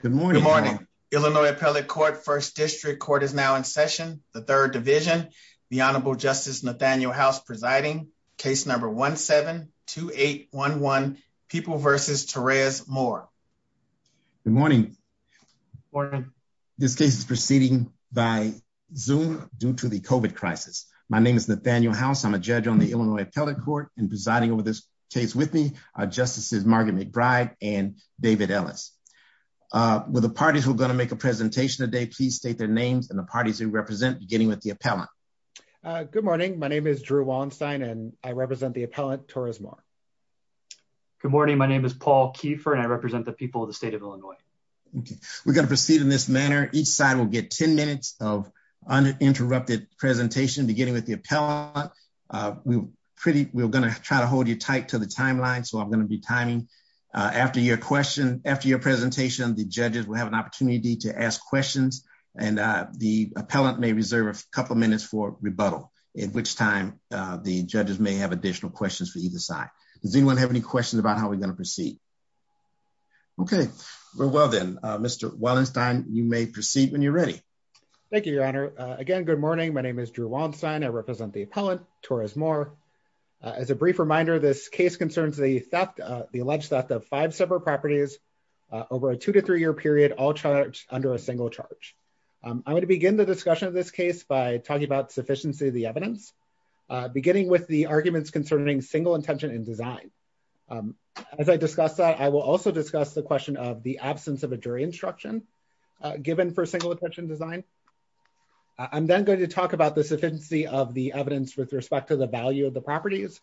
Good morning. Illinois Appellate Court First District Court is now in session, the third division. The Honorable Justice Nathaniel House presiding, case number 17-2811, People v. Torres-Moore. Good morning. This case is proceeding by Zoom due to the COVID crisis. My name is Nathaniel House. I'm a judge on the Illinois Appellate Court and presiding over this case with me are Justices Margaret McBride and David Ellis. The parties who are going to make a presentation today, please state their names and the parties you represent, beginning with the appellant. Good morning. My name is Drew Wallenstein and I represent the appellant, Torres-Moore. Good morning. My name is Paul Keefer and I represent the people of the state of Illinois. We're going to proceed in this manner. Each side will get 10 minutes of uninterrupted presentation, beginning with the appellant. We're going to try to hold you tight to the timeline, so I'm going to be timing. After your presentation, the judges will have an opportunity to ask questions, and the appellant may reserve a couple minutes for rebuttal, at which time the judges may have additional questions for either side. Does anyone have any questions about how we're going to proceed? Okay. Well, then, Mr. Wallenstein, you may proceed when you're ready. Thank you, Your Honor. Again, good morning. My name is Drew Wallenstein. I represent the appellant, Torres-Moore. As a brief reminder, this case concerns the alleged theft of five separate properties over a two- to three-year period, all charged under a single charge. I'm going to begin the discussion of this case by talking about sufficiency of the evidence, beginning with the arguments concerning single intention in design. As I discuss that, I will also discuss the question of the absence of a jury instruction given for single intention design. I'm then going to talk about the sufficiency of the evidence with respect to the value of the properties.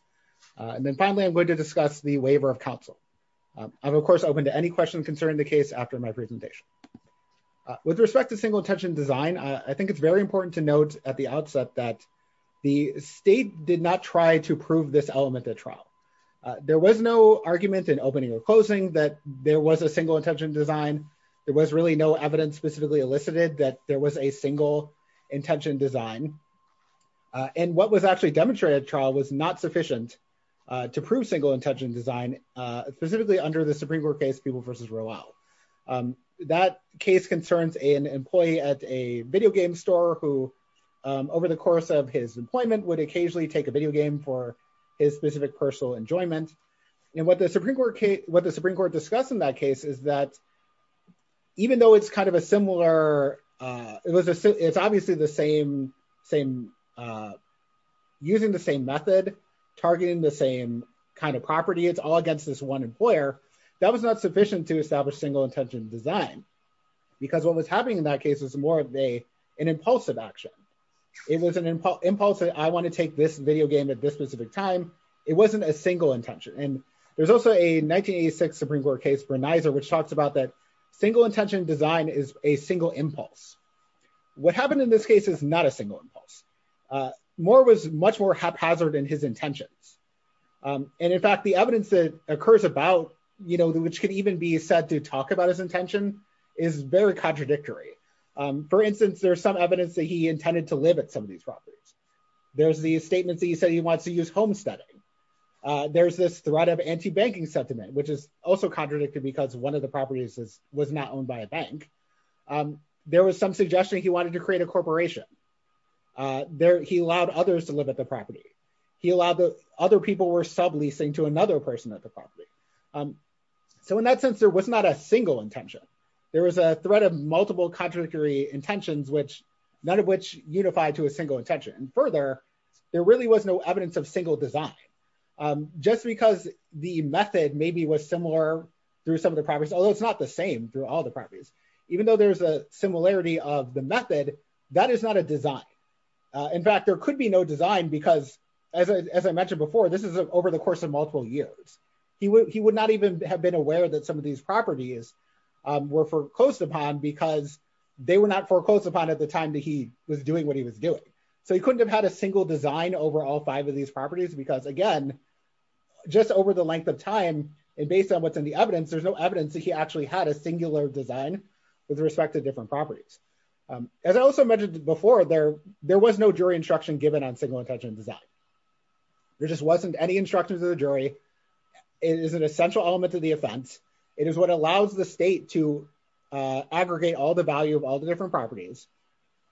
And then, finally, I'm going to discuss the waiver of counsel. I'm, of course, open to any questions concerning the case after my presentation. With respect to single intention design, I think it's very important to note at the outset that the state did not try to prove this element at trial. There was no argument in opening or closing that there was a single intention design. There was really no evidence specifically elicited that there was a single intention design. And what was actually demonstrated at trial was not sufficient to prove single intention design, specifically under the Supreme Court case, Peeble v. Rowell. That case concerns an employee at a video game store who, over the course of his employment, would occasionally take a video game for his specific personal enjoyment. And what the Supreme Court discussed in that case is that even though it's kind of a similar... ...using the same method, targeting the same kind of property, it's all against this one employer, that was not sufficient to establish single intention design. Because what was happening in that case was more of an impulsive action. It was an impulse that I want to take this video game at this specific time. It wasn't a single intention. And there's also a 1986 Supreme Court case, Berneiser, which talks about that single intention design is a single impulse. What happened in this case is not a single impulse. Moore was much more haphazard in his intentions. And in fact, the evidence that occurs about, which could even be said to talk about his intention, is very contradictory. For instance, there's some evidence that he intended to live at some of these properties. There's the statement that he said he wants to use homesteading. There's this threat of anti-banking sentiment, which is also contradictory because one of the properties was not owned by a bank. There was some suggestion he wanted to create a corporation. He allowed others to live at the property. He allowed that other people were subleasing to another person at the property. So in that sense, there was not a single intention. There was a threat of multiple contradictory intentions, none of which unify to a single intention. And further, there really was no evidence of single design. Just because the method maybe was similar through some of the properties, although it's not the same through all the properties, even though there's a similarity of the method, that is not a design. In fact, there could be no design because, as I mentioned before, this is over the course of multiple years. He would not even have been aware that some of these properties were foreclosed upon because they were not foreclosed upon at the time that he was doing what he was doing. So he couldn't have had a single design over all five of these properties because, again, just over the length of time and based on what's in the evidence, there's no evidence that he actually had a singular design with respect to different properties. As I also mentioned before, there was no jury instruction given on single intention design. There just wasn't any instruction to the jury. It is an essential element to the offense. It is what allows the state to aggregate all the value of all the different properties.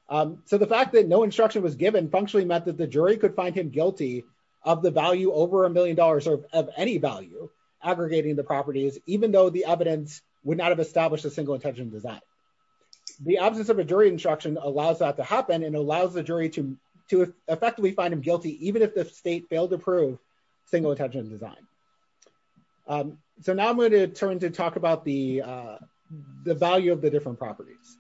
So the fact that no instruction was given functionally meant that the jury could find him guilty of the value over a million dollars of any value aggregating the properties, even though the evidence would not have established a single intention design. The absence of a jury instruction allows that to happen and allows the jury to effectively find him guilty even if the state failed to prove single intention design. So now I'm going to turn to talk about the value of the different properties.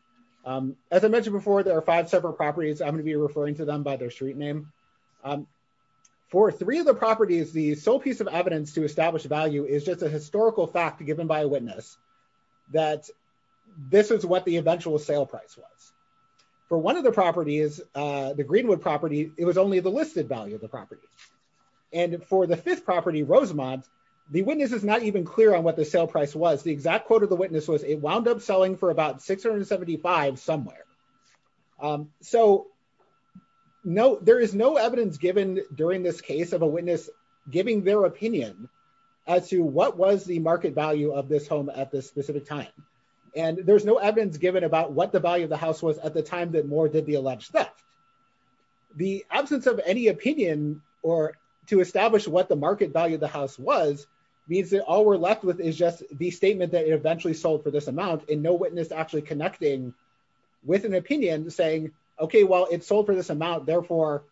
As I mentioned before, there are five separate properties. I'm going to be referring to them by their street name. For three of the properties, the sole piece of evidence to establish value is just a historical fact given by a witness that this is what the eventual sale price was. For one of the properties, the Greenwood property, it was only the listed value of the property. And for the fifth property, Rosemont, the witness is not even clear on what the sale price was. The exact quote of the witness was it wound up selling for about 675 somewhere. So there is no evidence given during this case of a witness giving their opinion as to what was the market value of this home at this specific time. And there's no evidence given about what the value of the house was at the time that Moore did the alleged theft. The absence of any opinion or to establish what the market value of the house was means that all we're left with is just the statement that it eventually sold for this amount. And no witness actually connecting with an opinion saying, okay, well, it sold for this amount. Therefore,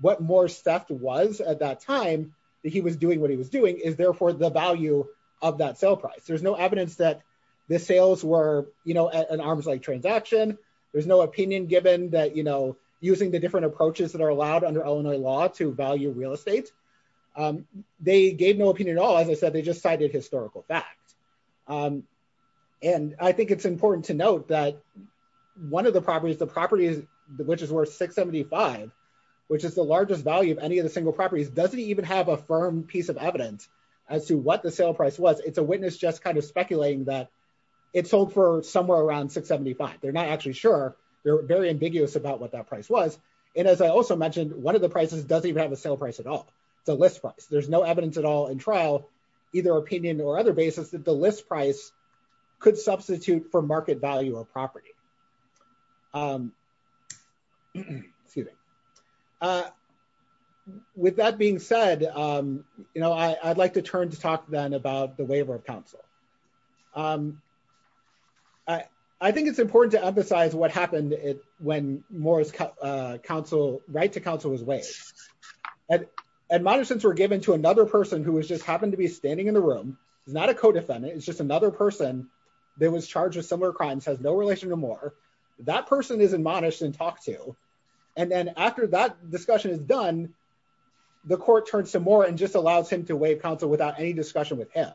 what Moore's theft was at that time that he was doing what he was doing is, therefore, the value of that sale price. There's no evidence that the sales were an arms-length transaction. There's no opinion given that, you know, using the different approaches that are allowed under Illinois law to value real estate. They gave no opinion at all and they said they just cited historical facts. And I think it's important to note that one of the properties, the property which is worth 675, which is the largest value of any of the single properties, doesn't even have a firm piece of evidence as to what the sale price was. It's a witness just kind of speculating that it sold for somewhere around 675. They're not actually sure. They're very ambiguous about what that price was. And as I also mentioned, one of the prices doesn't even have a sale price at all, the list price. There's no evidence at all in trial, either opinion or other basis, that the list price could substitute for market value of property. Excuse me. With that being said, you know, I'd like to turn to talk then about the waiver of counsel. I think it's important to emphasize what happened when Moore's right to counsel was waived. Admonitions were given to another person who just happened to be standing in the room, not a co-defendant. It's just another person that was charged with similar crimes, has no relation to Moore. That person is admonished and talked to. And then after that discussion is done, the court turns to Moore and just allows him to waive counsel without any discussion with him.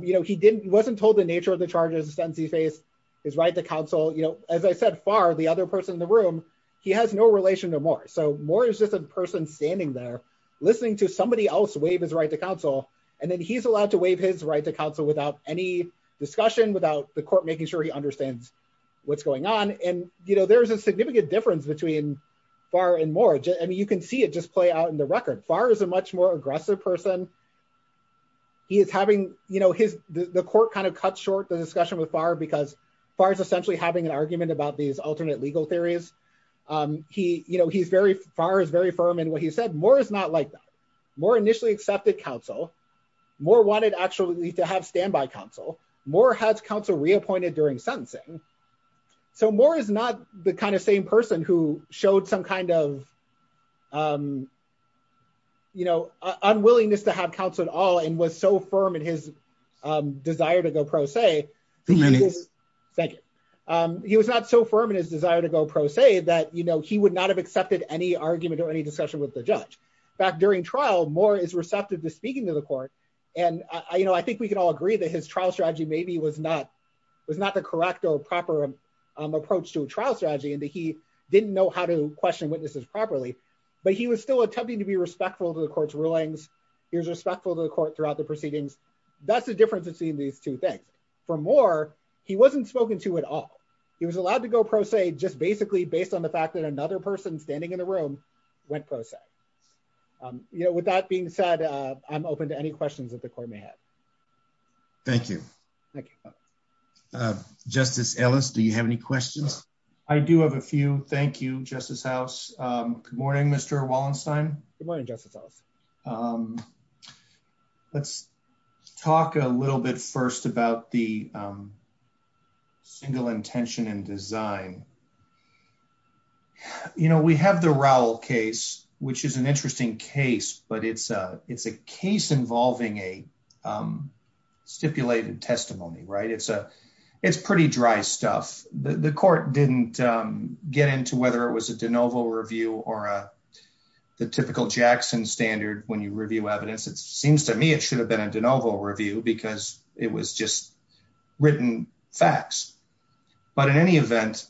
You know, he wasn't told the nature of the charges, the sentence he faced, his right to counsel. As I said far, the other person in the room, he has no relation to Moore. So Moore is just a person standing there listening to somebody else waive his right to counsel. And then he's allowed to waive his right to counsel without any discussion, without the court making sure he understands what's going on. And, you know, there is a significant difference between Farr and Moore. I mean, you can see it just play out in the record. Farr is a much more aggressive person. He is having, you know, the court kind of cut short the discussion with Farr because Farr is essentially having an argument about these alternate legal theories. You know, Farr is very firm in what he said. Moore is not like that. Moore initially accepted counsel. Moore wanted actually to have standby counsel. Moore has counsel reappointed during sentencing. So Moore is not the kind of same person who showed some kind of, you know, unwillingness to have counsel at all and was so firm in his desire to go pro se. Thank you. He was not so firm in his desire to go pro se that, you know, he would not have accepted any argument or any discussion with the judge. In fact, during trial, Moore is receptive to speaking to the court. And, you know, I think we can all agree that his trial strategy maybe was not the correct or proper approach to a trial strategy and that he didn't know how to question witnesses properly. But he was still attempting to be respectful to the court's rulings. He was respectful to the court throughout the proceedings. That's the difference between these two things. For Moore, he wasn't spoken to at all. He was allowed to go pro se just basically based on the fact that another person standing in the room went pro se. You know, with that being said, I'm open to any questions that the court may have. Thank you. Thank you. Justice Ellis, do you have any questions? I do have a few. Thank you, Justice House. Good morning, Mr. Wallenstein. Good morning, Justice Ellis. Let's talk a little bit first about the single intention in design. You know, we have the Rowell case, which is an interesting case, but it's a case involving a stipulated testimony, right? It's pretty dry stuff. The court didn't get into whether it was a de novo review or the typical Jackson standard when you review evidence. It seems to me it should have been a de novo review because it was just written facts. But in any event,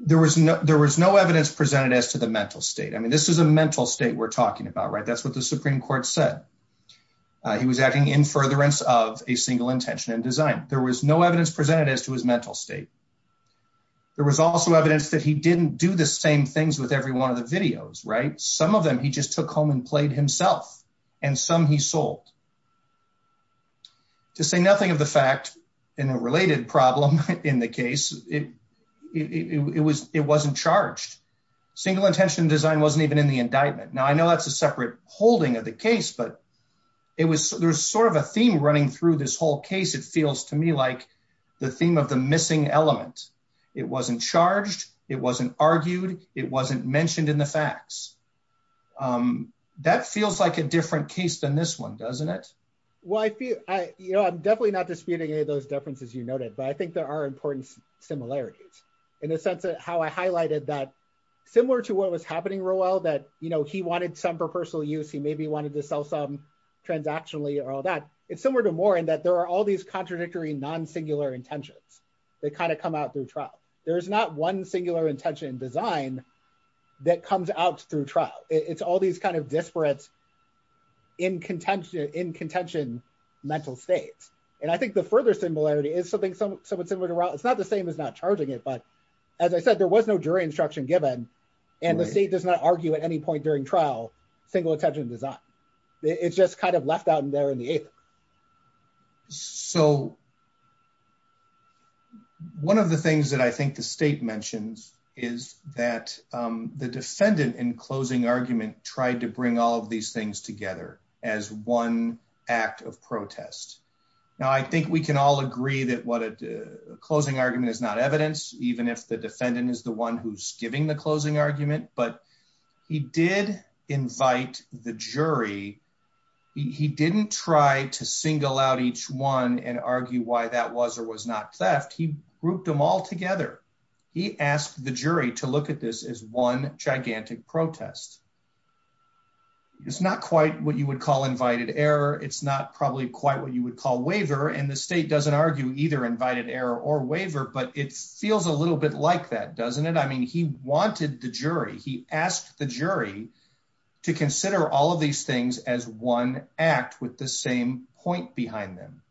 there was no evidence presented as to the mental state. I mean, this is a mental state we're talking about, right? That's what the Supreme Court said. He was acting in furtherance of a single intention in design. There was no evidence presented as to his mental state. There was also evidence that he didn't do the same things with every one of the videos, right? Some of them he just took home and played himself, and some he sold. To say nothing of the fact in a related problem in the case, it wasn't charged. Single intention in design wasn't even in the indictment. Now, I know that's a separate holding of the case, but there was sort of a theme running through this whole case. It feels to me like the theme of the missing element. It wasn't charged. It wasn't argued. It wasn't mentioned in the facts. That feels like a different case than this one, doesn't it? Well, I'm definitely not disputing any of those differences you noted, but I think there are important similarities. In the sense of how I highlighted that similar to what was happening, Roel, that he wanted some for personal use, he maybe wanted to sell some transactionally or all that. It's similar to more in that there are all these contradictory non-singular intentions that kind of come out through trial. There's not one singular intention in design that comes out through trial. It's all these kind of disparate in contention mental states. And I think the further similarity is something somewhat similar to Roel. It's not the same as not charging it, but as I said, there was no jury instruction given, and the state does not argue at any point during trial singular intention in design. It's just kind of left out in there in the apex. So one of the things that I think the state mentions is that the defendant in closing argument tried to bring all of these things together as one act of protest. Now, I think we can all agree that a closing argument is not evidence, even if the defendant is the one who's giving the closing argument. But he did invite the jury. He didn't try to single out each one and argue why that was or was not theft. He grouped them all together. He asked the jury to look at this as one gigantic protest. It's not quite what you would call invited error. It's not probably quite what you would call waiver, and the state doesn't argue either invited error or waiver, but it feels a little bit like that, doesn't it? I mean, he wanted the jury. He asked the jury to consider all of these things as one act with the same point behind them.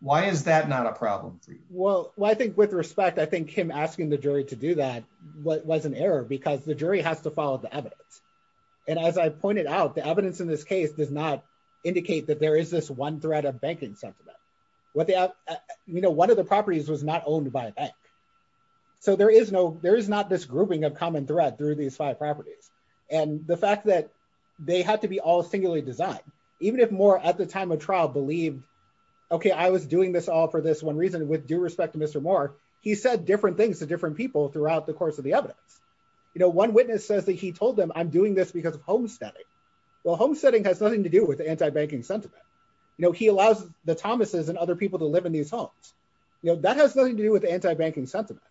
Why is that not a problem for you? Well, I think with respect, I think him asking the jury to do that was an error because the jury has to follow the evidence. And as I pointed out, the evidence in this case did not indicate that there is this one threat of bank incentive. One of the properties was not owned by a bank. So there is not this grouping of common threat through these five properties. And the fact that they have to be all singularly designed, even if Moore at the time of trial believed, okay, I was doing this all for this one reason. With due respect to Mr. Moore, he said different things to different people throughout the course of the evidence. You know, one witness says that he told them, I'm doing this because of homesteading. Well, homesteading has nothing to do with anti-banking sentiment. You know, he allows the Thomases and other people to live in these homes. You know, that has nothing to do with anti-banking sentiment.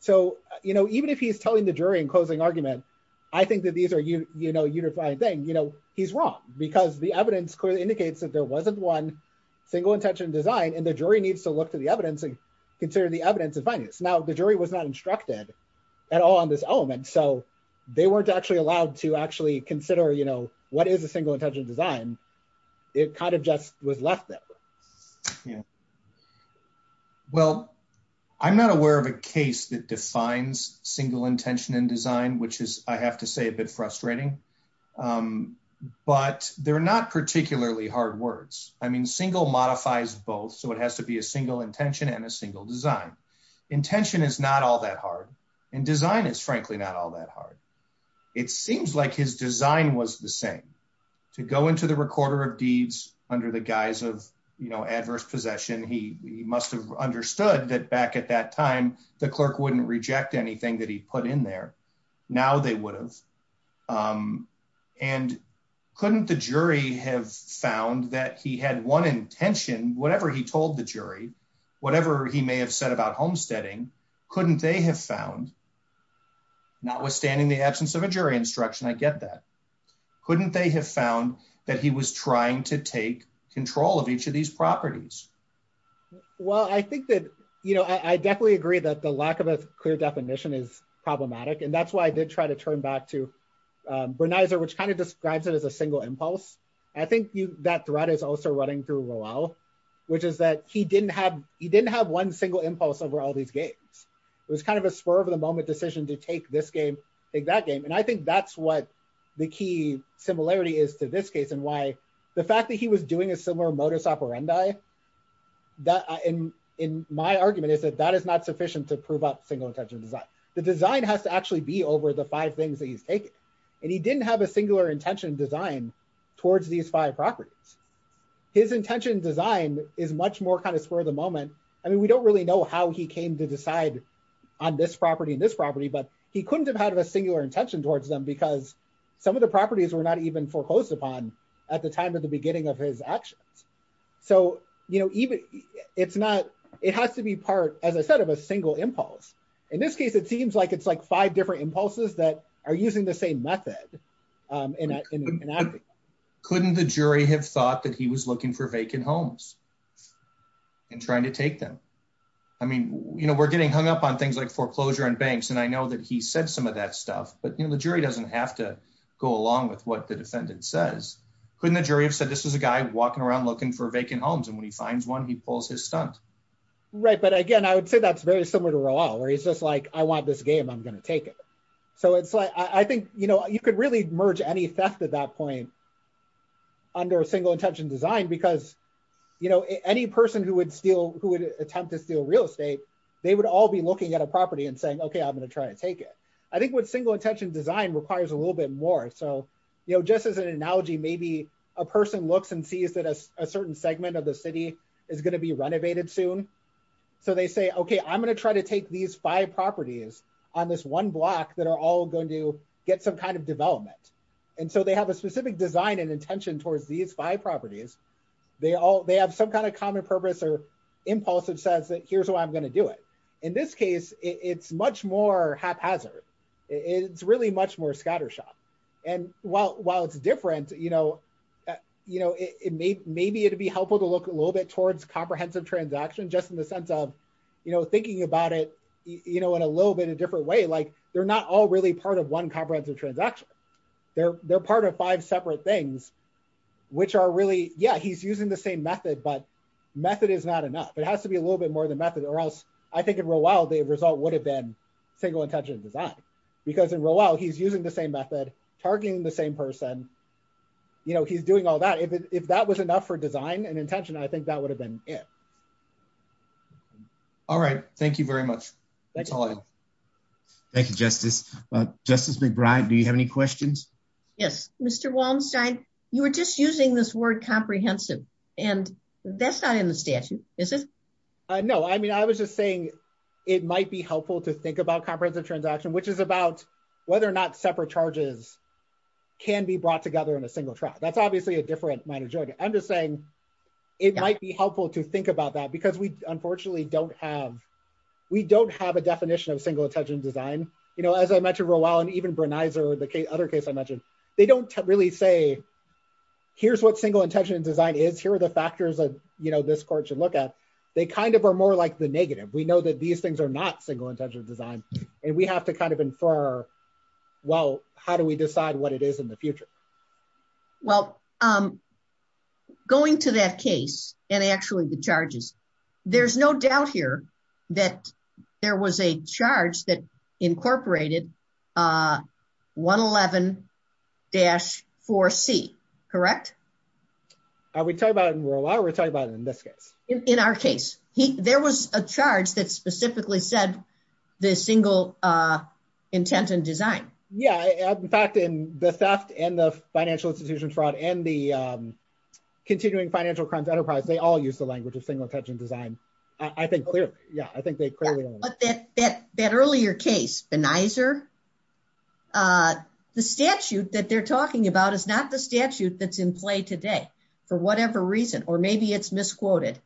So, you know, even if he's telling the jury in closing argument, I think that these are, you know, a unified thing. You know, he's wrong because the evidence clearly indicates that there wasn't one single intention design. And the jury needs to look to the evidence and consider the evidence as finding this. Now, the jury was not instructed at all on this element. So they weren't actually allowed to actually consider, you know, what is a single intention design. It kind of just was left there. Well, I'm not aware of a case that defines single intention in design, which is, I have to say, a bit frustrating. But they're not particularly hard words. I mean, single modifies both. So it has to be a single intention and a single design. Intention is not all that hard. And design is, frankly, not all that hard. It seems like his design was the same. I mean, to go into the recorder of deeds under the guise of, you know, adverse possession, he must have understood that back at that time, the clerk wouldn't reject anything that he put in there. Now they would have. And couldn't the jury have found that he had one intention, whatever he told the jury, whatever he may have said about homesteading, couldn't they have found, notwithstanding the absence of a jury instruction, I get that. Couldn't they have found that he was trying to take control of each of these properties? Well, I think that, you know, I definitely agree that the lack of a clear definition is problematic. And that's why I did try to turn back to Berneiser, which kind of describes it as a single impulse. I think that threat is also running through Lowell, which is that he didn't have he didn't have one single impulse over all these games. It was kind of a spur of the moment decision to take this game, take that game. And I think that's what the key similarity is to this case and why the fact that he was doing a similar modus operandi, that in my argument is that that is not sufficient to prove up single intention design. The design has to actually be over the five things that he's taken. And he didn't have a singular intention design towards these five properties. His intention design is much more kind of spur of the moment. I mean, we don't really know how he came to decide on this property and this property, but he couldn't have had a singular intention towards them because some of the properties were not even foreclosed upon at the time of the beginning of his actions. So, you know, it's not it has to be part of a set of a single impulse. In this case, it seems like it's like five different impulses that are using the same method. Couldn't the jury have thought that he was looking for vacant homes and trying to take them. I mean, you know, we're getting hung up on things like foreclosure and banks and I know that he said some of that stuff, but the jury doesn't have to go along with what the defendant says. Couldn't the jury have said this is a guy walking around looking for vacant homes and when he finds one he pulls his son. Right. But again, I would say that's very similar to Raul where he's just like, I want this game. I'm going to take it. So it's like, I think, you know, you could really merge any theft at that point under a single intention design because, you know, any person who would steal who would attempt to steal real estate. They would all be looking at a property and saying, okay, I'm going to try and take it. I think what single intention design requires a little bit more. So, you know, just as an analogy, maybe a person looks and sees that a certain segment of the city is going to be renovated soon. So they say, okay, I'm going to try to take these five properties on this one block that are all going to get some kind of development. And so they have a specific design and intention towards these five properties. They have some kind of common purpose or impulse that says that here's what I'm going to do it. In this case, it's much more haphazard. It's really much more scattershot. And while it's different, you know, maybe it'd be helpful to look a little bit towards comprehensive transaction, just in the sense of, you know, thinking about it, you know, in a little bit of different way. Like, they're not all really part of one comprehensive transaction. They're part of five separate things, which are really, yeah, he's using the same method, but method is not enough. It has to be a little bit more than method or else I think in real life, the result would have been single intention design. Because in real life, he's using the same method, targeting the same person. You know, he's doing all that. If that was enough for design and intention, I think that would have been it. All right. Thank you very much. Thank you, Justice. Justice McBride, do you have any questions? Yes. Mr. Wallenstein, you were just using this word comprehensive, and that's not in the statute, is it? No. I mean, I was just saying it might be helpful to think about comprehensive transaction, which is about whether or not separate charges can be brought together in a single track. That's obviously a different line of joke. I'm just saying it might be helpful to think about that because we unfortunately don't have, we don't have a definition of single intention design. You know, as I mentioned for a while, and even for the other case I mentioned, they don't really say, here's what single intention design is, here are the factors that, you know, this court should look at. They kind of are more like the negative. We know that these things are not single intention design, and we have to kind of infer, well, how do we decide what it is in the future? Well, going to that case, and actually the charges, there's no doubt here that there was a charge that incorporated 111-4C, correct? Are we talking about it in rural law or are we talking about it in this case? In our case. There was a charge that specifically said the single intent and design. Yeah, in fact, in the theft and the financial institutions fraud and the continuing financial crimes enterprise, they all use the language of single intention design. I think, yeah, I think they clearly. That earlier case, the NYSER, the statute that they're talking about is not the statute that's in play today, for whatever reason, or maybe it's misquoted.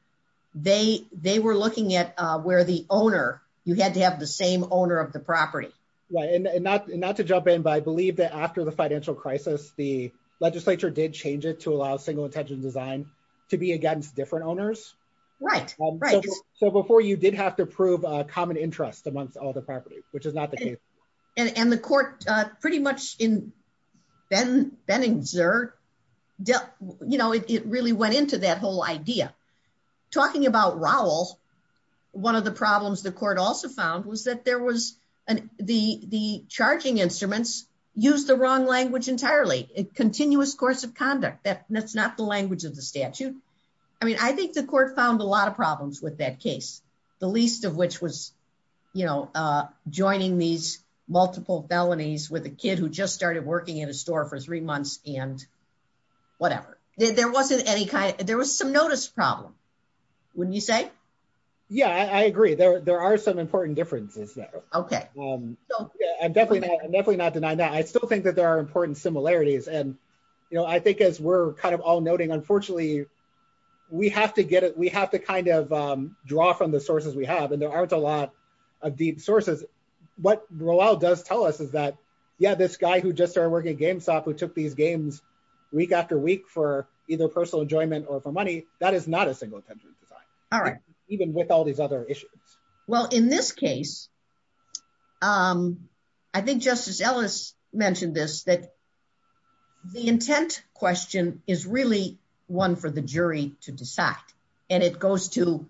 They were looking at where the owner, you had to have the same owner of the property. Not to jump in, but I believe that after the financial crisis, the legislature did change it to allow single intention design to be against different owners. Right, right. So before you did have to prove a common interest amongst all the properties, which is not the case. And the court, pretty much in Benningser, you know, it really went into that whole idea. Talking about Rowell, one of the problems the court also found was that there was the charging instruments used the wrong language entirely. Continuous course of conduct, that's not the language of the statute. I mean, I think the court found a lot of problems with that case. The least of which was, you know, joining these multiple felonies with a kid who just started working in a store for three months and whatever. There was some notice problems, wouldn't you say? Yeah, I agree. There are some important differences there. Okay. I'm definitely not denying that. I still think that there are important similarities. And, you know, I think as we're kind of all noting, unfortunately, we have to kind of draw from the sources we have, and there aren't a lot of deep sources. What Rowell does tell us is that, yeah, this guy who just started working at GameStop who took these games week after week for either personal enjoyment or for money, that is not a single intention design. All right. Even with all these other issues. Well, in this case, I think Justice Ellis mentioned this, that the intent question is really one for the jury to decide. And it goes to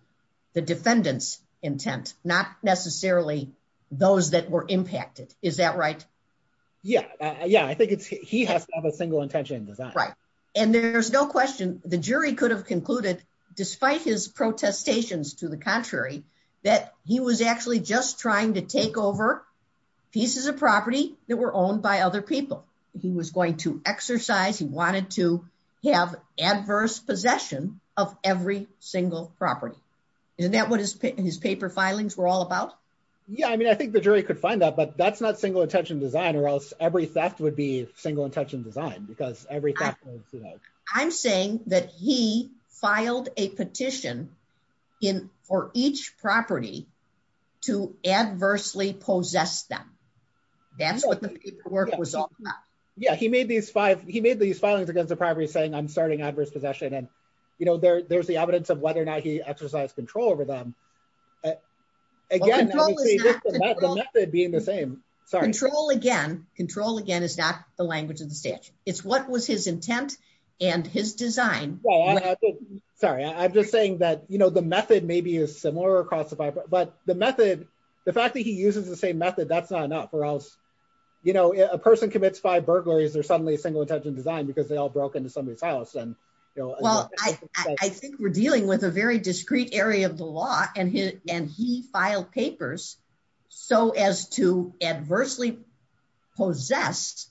the defendant's intent, not necessarily those that were impacted. Is that right? Yeah, yeah. I think he has a single intention design. Right. And there's no question, the jury could have concluded, despite his protestations to the contrary, that he was actually just trying to take over pieces of property that were owned by other people. He was going to exercise, he wanted to have adverse possession of every single property. Isn't that what his paper filings were all about? Yeah, I mean, I think the jury could find that, but that's not single intention design, or else every theft would be single intention design, because every theft is, you know. I'm saying that he filed a petition for each property to adversely possess them. That's what the paperwork was all about. Yeah, he made these filings against the property saying, I'm starting adverse possession. And, you know, there's the evidence of whether or not he exercised control over them. Again, the method being the same. Sorry. Control again. Control again is not the language of the state. It's what was his intent and his design. Sorry, I'm just saying that, you know, the method maybe is similar across the board. But the method, the fact that he uses the same method, that's not enough, or else, you know, a person commits five burglaries, they're suddenly single intention design because they all broke into somebody's house. Well, I think we're dealing with a very discrete area of the law, and he filed papers so as to adversely possess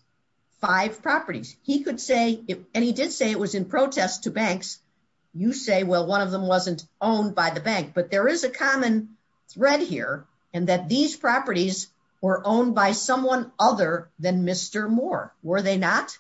five properties. He could say, and he did say it was in protest to banks. You say, well, one of them wasn't owned by the bank. But there is a common thread here in that these properties were owned by someone other than Mr. Moore. Were they not?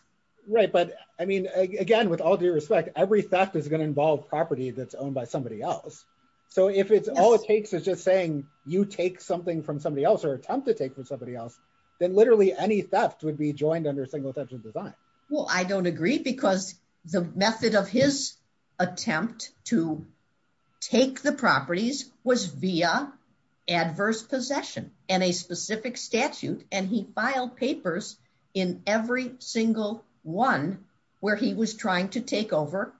Right. But, I mean, again, with all due respect, every theft is going to involve property that's owned by somebody else. So if it's all it takes is just saying you take something from somebody else or attempt to take from somebody else, then literally any theft would be joined under single intention design. Well, I don't agree because the method of his attempt to take the properties was via adverse possession and a specific statute. And he filed papers in every single one where he was trying to take over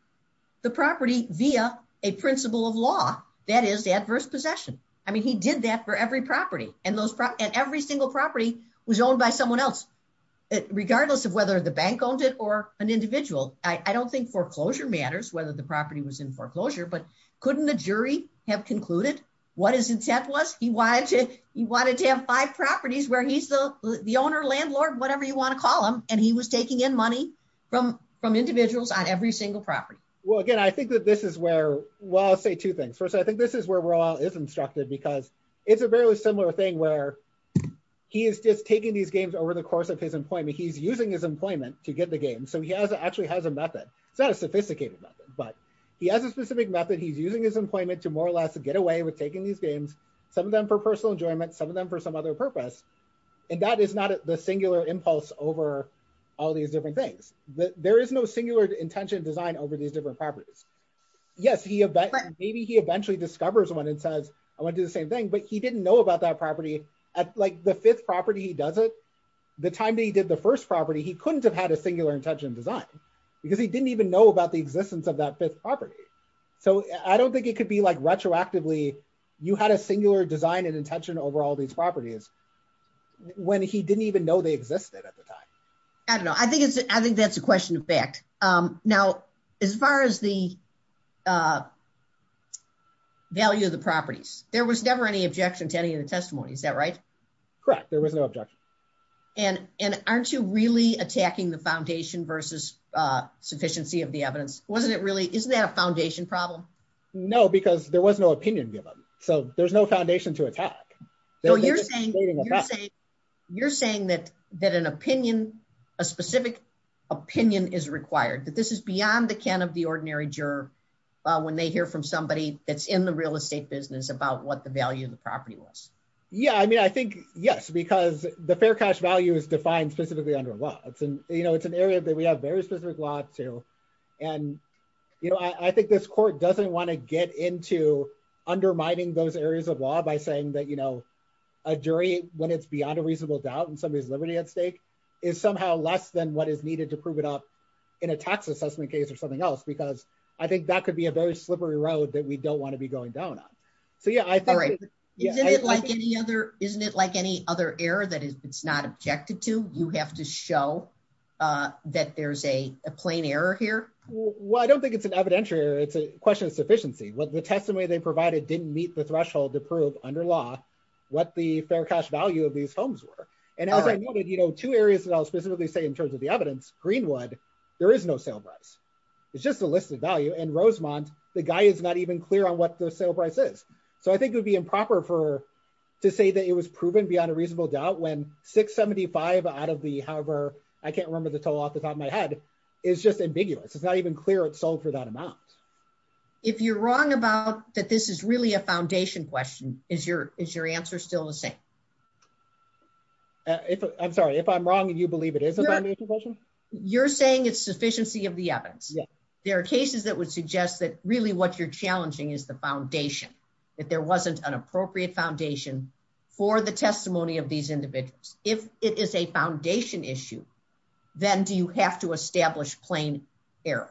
the property via a principle of law, that is, adverse possession. I mean, he did that for every property. And every single property was owned by someone else, regardless of whether the bank owned it or an individual. I don't think foreclosure matters, whether the property was in foreclosure. But couldn't the jury have concluded what his intent was? He wanted to have five properties where he's the owner, landlord, whatever you want to call him. And he was taking in money from individuals on every single property. Well, again, I think that this is where – well, I'll say two things. First, I think this is where Ra is instructed because it's a very similar thing where he is just taking these games over the course of his employment. He's using his employment to get the games. So he actually has a method. It's not a sophisticated method, but he has a specific method. He's using his employment to more or less get away with taking these games, some of them for personal enjoyment, some of them for some other purpose. And that is not the singular impulse over all these different things. There is no singular intention design over these different properties. Yes, maybe he eventually discovers one and says I want to do the same thing, but he didn't know about that property. Like the fifth property he does it, the time that he did the first property, he couldn't have had a singular intention design because he didn't even know about the existence of that fifth property. So I don't think it could be like retroactively you had a singular design and intention over all these properties when he didn't even know they existed at the time. I don't know. I think that's a question of fact. Now, as far as the value of the properties, there was never any objection to any of the testimony, is that right? Correct. There was no objection. And aren't you really attacking the foundation versus sufficiency of the evidence? Wasn't it really, isn't that a foundation problem? No, because there was no opinion given. So there's no foundation to attack. You're saying that an opinion, a specific opinion is required, that this is beyond the can of the ordinary juror when they hear from somebody that's in the real estate business about what the value of the property was. Yeah, I mean, I think, yes, because the fair cash value is defined specifically under law. It's an area that we have very specific laws to. And I think this court doesn't want to get into undermining those areas of law by saying that a jury, when it's beyond a reasonable doubt in somebody's liberty at stake, is somehow less than what is needed to prove it up in a tax assessment case or something else. Because I think that could be a very slippery road that we don't want to be going down on. Isn't it like any other error that it's not objected to? You have to show that there's a plain error here? Well, I don't think it's an evidentiary error. It's a question of sufficiency. The testimony they provided didn't meet the threshold to prove under law what the fair cash value of these homes were. And as I noted, two areas that I'll specifically say in terms of the evidence, Greenwood, there is no sale price. It's just a list of value. The guy is not even clear on what the sale price is. So I think it would be improper to say that it was proven beyond a reasonable doubt when 675 out of the, however, I can't remember the total off the top of my head, is just ambiguous. It's not even clear it sold for that amount. If you're wrong about that this is really a foundation question, is your answer still the same? I'm sorry, if I'm wrong and you believe it is a foundation question? You're saying it's sufficiency of the evidence. There are cases that would suggest that really what you're challenging is the foundation, that there wasn't an appropriate foundation for the testimony of these individuals. If it is a foundation issue, then do you have to establish plain error?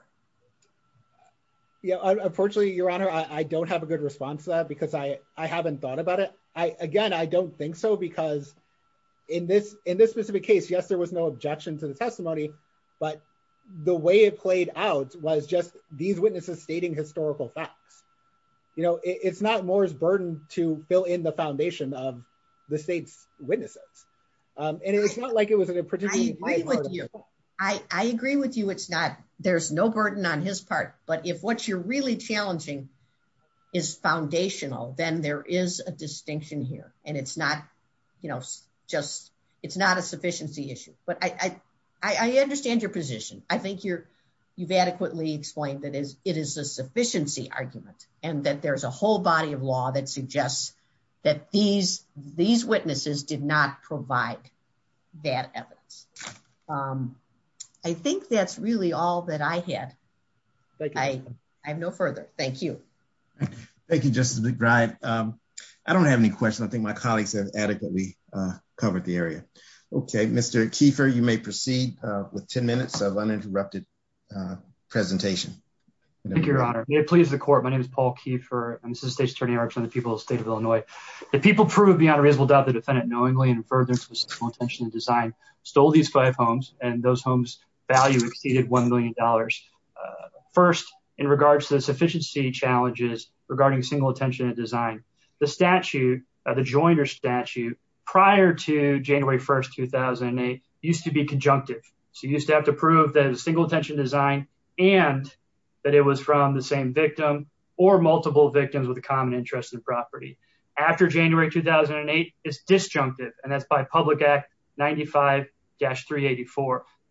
Unfortunately, Your Honor, I don't have a good response to that because I haven't thought about it. Again, I don't think so because in this specific case, yes, there was no objection to the testimony, but the way it played out was just these witnesses stating historical facts. You know, it's not Moore's burden to fill in the foundation of the state's witnesses. I agree with you. There's no burden on his part, but if what you're really challenging is foundational, then there is a distinction here. It's not a sufficiency issue, but I understand your position. I think you've adequately explained that it is a sufficiency argument and that there's a whole body of law that suggests that these witnesses did not provide that evidence. I think that's really all that I have, but I have no further. Thank you. Thank you, Justice McBride. I don't have any questions. I think my colleagues have adequately covered the area. Okay, Mr. Keefer, you may proceed with 10 minutes of uninterrupted presentation. Thank you, Your Honor. May it please the Court. My name is Paul Keefer. I'm Assistant State's Attorney, Arts and the People of the State of Illinois. The people proved beyond reasonable doubt that the defendant knowingly and impertinently with sexual intention and design stole these five homes, and those homes' value exceeded $1 million. First, in regards to the sufficiency challenges regarding single intention and design, the statute, the Joyner statute, prior to January 1st, 2008, used to be conjunctive. So you used to have to prove that it was single intention and design and that it was from the same victim or multiple victims with a common interest in the property. After January 2008, it's disjunctive, and that's by Public Act 95-384.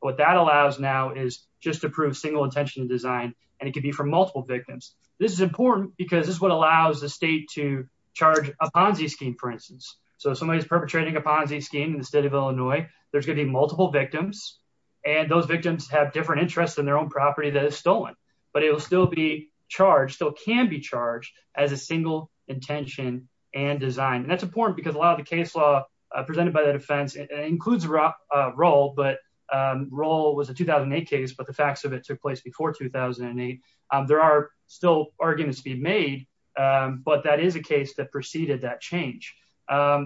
What that allows now is just to prove single intention and design, and it could be from multiple victims. This is important because this is what allows the state to charge a Ponzi scheme, for instance. So if somebody's perpetrating a Ponzi scheme in the state of Illinois, there's going to be multiple victims, and those victims have different interests in their own property that is stolen. But it will still be charged, still can be charged, as a single intention and design. And that's important because a lot of the case law presented by the defense includes Roehl, but Roehl was a 2008 case, but the facts of it took place before 2008. There are still arguments to be made, but that is a case that preceded that change.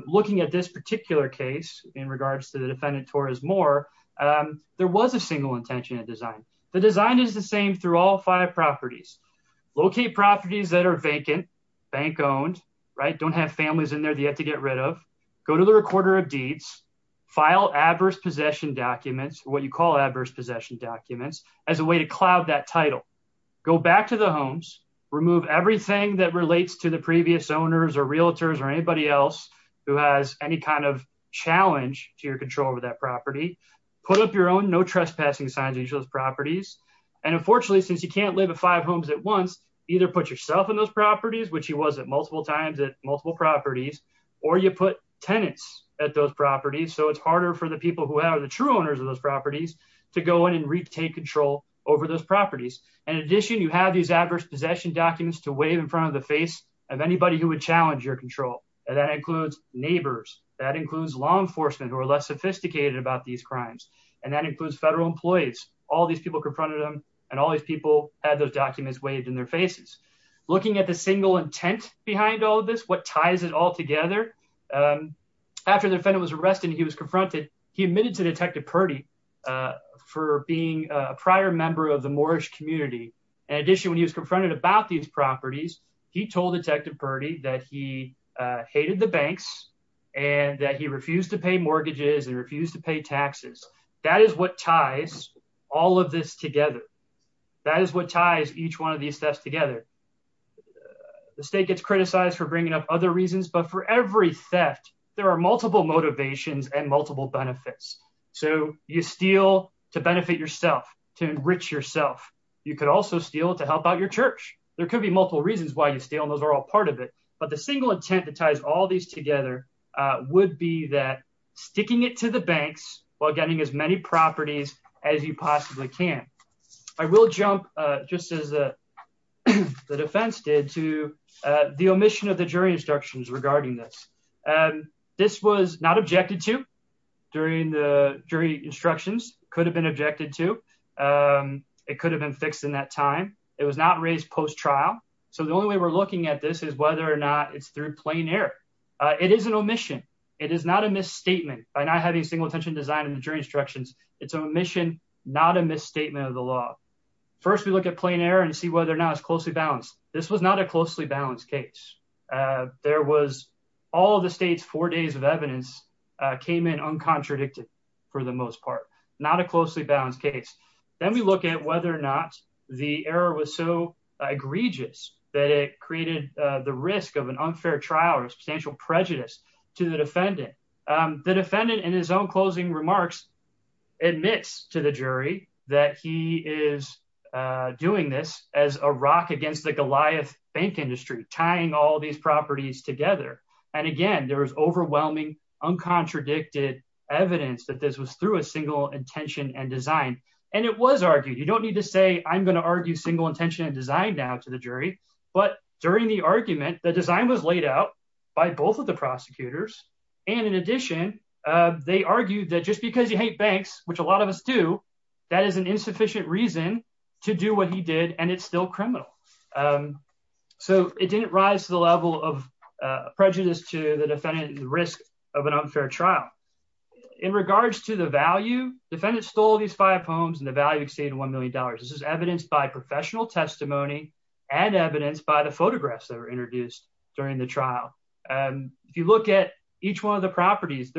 Looking at this particular case in regards to the defendant, Torres Moore, there was a single intention and design. The design is the same through all five properties. Locate properties that are vacant, bank-owned, right, don't have families in there that you have to get rid of. Go to the recorder of deeds. File adverse possession documents, what you call adverse possession documents, as a way to cloud that title. Go back to the homes. Remove everything that relates to the previous owners or realtors or anybody else who has any kind of challenge to your control over that property. Put up your own no trespassing signs on those properties. And unfortunately, since you can't live in five homes at once, either put yourself in those properties, which you was at multiple times at multiple properties, or you put tenants at those properties. So it's harder for the people who are the true owners of those properties to go in and retake control over those properties. In addition, you have these adverse possession documents to wave in front of the face of anybody who would challenge your control. And that includes neighbors, that includes law enforcement who are less sophisticated about these crimes, and that includes federal employees. All these people confronted them, and all these people had those documents waved in their faces. Looking at the single intent behind all this, what ties it all together, after the defendant was arrested and he was confronted, he admitted to Detective Purdy for being a prior member of the Moorish community. In addition, when he was confronted about these properties, he told Detective Purdy that he hated the banks and that he refused to pay mortgages and refused to pay taxes. That is what ties all of this together. That is what ties each one of these thefts together. The state gets criticized for bringing up other reasons, but for every theft, there are multiple motivations and multiple benefits. So you steal to benefit yourself, to enrich yourself. You could also steal to help out your church. There could be multiple reasons why you steal, and those are all part of it. But the single intent that ties all these together would be that sticking it to the banks while getting as many properties as you possibly can. I will jump, just as the defense did, to the omission of the jury instructions regarding this. This was not objected to during the jury instructions. It could have been objected to. It could have been fixed in that time. It was not raised post-trial. So the only way we're looking at this is whether or not it's through plain error. It is an omission. It is not a misstatement. By not having single intention design in the jury instructions, it's an omission, not a misstatement of the law. First, we look at plain error and see whether or not it's closely balanced. This was not a closely balanced case. There was all of the state's four days of evidence came in uncontradicted for the most part, not a closely balanced case. Then we look at whether or not the error was so egregious that it created the risk of an unfair trial and substantial prejudice to the defendant. The defendant, in his own closing remarks, admits to the jury that he is doing this as a rock against the Goliath bank industry, tying all these properties together. And again, there was overwhelming, uncontradicted evidence that this was through a single intention and design. And it was argued. You don't need to say, I'm going to argue single intention and design down to the jury. But during the argument, the design was laid out by both of the prosecutors. And in addition, they argued that just because you hate banks, which a lot of us do, that is an insufficient reason to do what he did. And it's still criminal. So it didn't rise to the level of prejudice to the defendant and the risk of an unfair trial. In regards to the value, defendants stole these five homes and the value exceeded $1 million. This is evidenced by professional testimony and evidenced by the photographs that were introduced during the trial. And if you look at each one of the properties,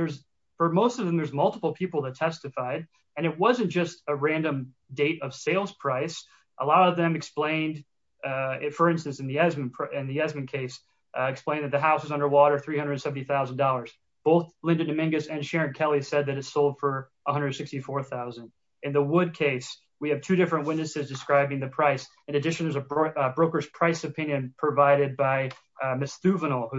for most of them, there's multiple people that testified. And it wasn't just a random date of sales price. A lot of them explained, for instance, in the Esmond case, explained that the house was underwater, $370,000. Both Linda Dominguez and Sharon Kelly said that it sold for $164,000. In the Wood case, we have two different witnesses describing the price. In addition, there's a broker's price opinion provided by Ms. Stuvenal, who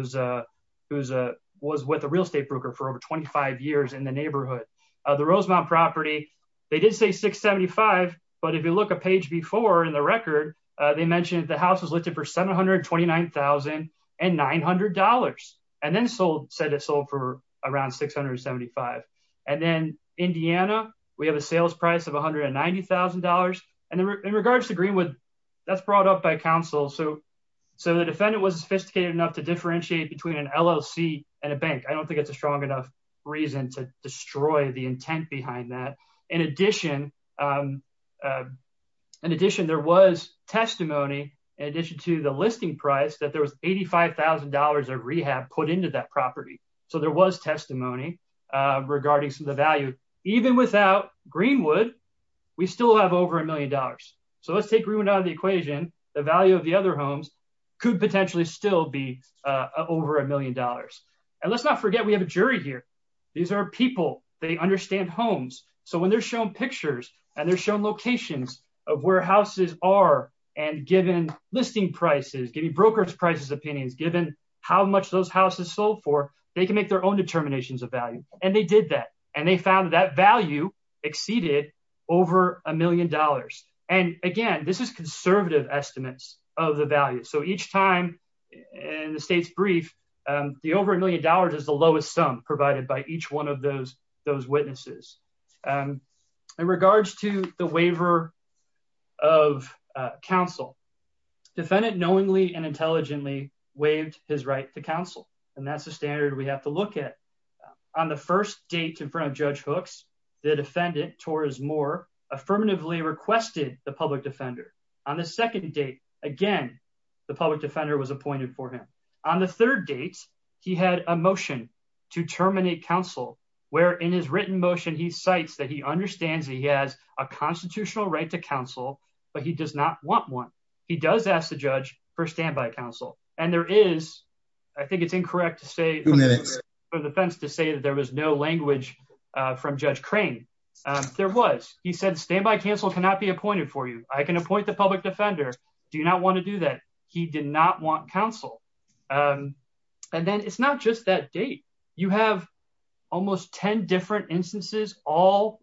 was with a real estate broker for over 25 years in the neighborhood. The Rosemount property, they did say $675,000. But if you look at page B4 in the record, they mentioned that the house was listed for $729,900 and then said it sold for around $675,000. And then Indiana, we have a sales price of $190,000. And in regards to Greenwood, that's brought up by counsel. So the defendant wasn't sophisticated enough to differentiate between an LLC and a bank. I don't think it's a strong enough reason to destroy the intent behind that. In addition, there was testimony in addition to the listing price that there was $85,000 of rehab put into that property. So there was testimony regarding some of the value. Even without Greenwood, we still have over $1 million. So let's take Greenwood out of the equation. The value of the other homes could potentially still be over $1 million. And let's not forget we have a jury here. These are people. They understand homes. So when they're shown pictures and they're shown locations of where houses are and given listing prices, giving brokerage prices opinions, given how much those houses sold for, they can make their own determinations of value. And they did that. And they found that value exceeded over $1 million. And, again, this is conservative estimates of the value. So each time in the state's brief, the over $1 million is the lowest sum provided by each one of those witnesses. In regards to the waiver of counsel, defendant knowingly and intelligently waived his right to counsel. And that's a standard we have to look at. On the first date in front of Judge Hooks, the defendant, Torres Moore, affirmatively requested the public defender. On the second date, again, the public defender was appointed for him. On the third date, he had a motion to terminate counsel where in his written motion he cites that he understands that he has a constitutional right to counsel, but he does not want one. He does ask the judge for standby counsel. And there is, I think it's incorrect to say there was no language from Judge Crane. There was. He said standby counsel cannot be appointed for you. I can appoint the public defender. Do you not want to do that? He did not want counsel. And then it's not just that date. You have almost 10 different instances all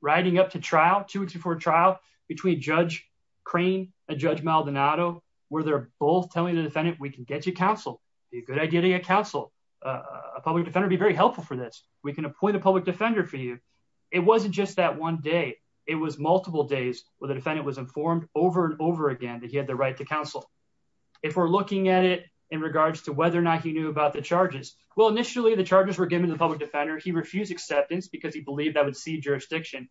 riding up to trial, two weeks before trial, between Judge Crane and Judge Maldonado where they're both telling the defendant we can get you counsel. It would be a good idea to get counsel. A public defender would be very helpful for this. We can appoint a public defender for you. It wasn't just that one day. It was multiple days where the defendant was informed over and over again that he had the right to counsel. If we're looking at it in regards to whether or not he knew about the charges, well, initially the charges were given to the public defender. He refused acceptance because he believed that would cede jurisdiction.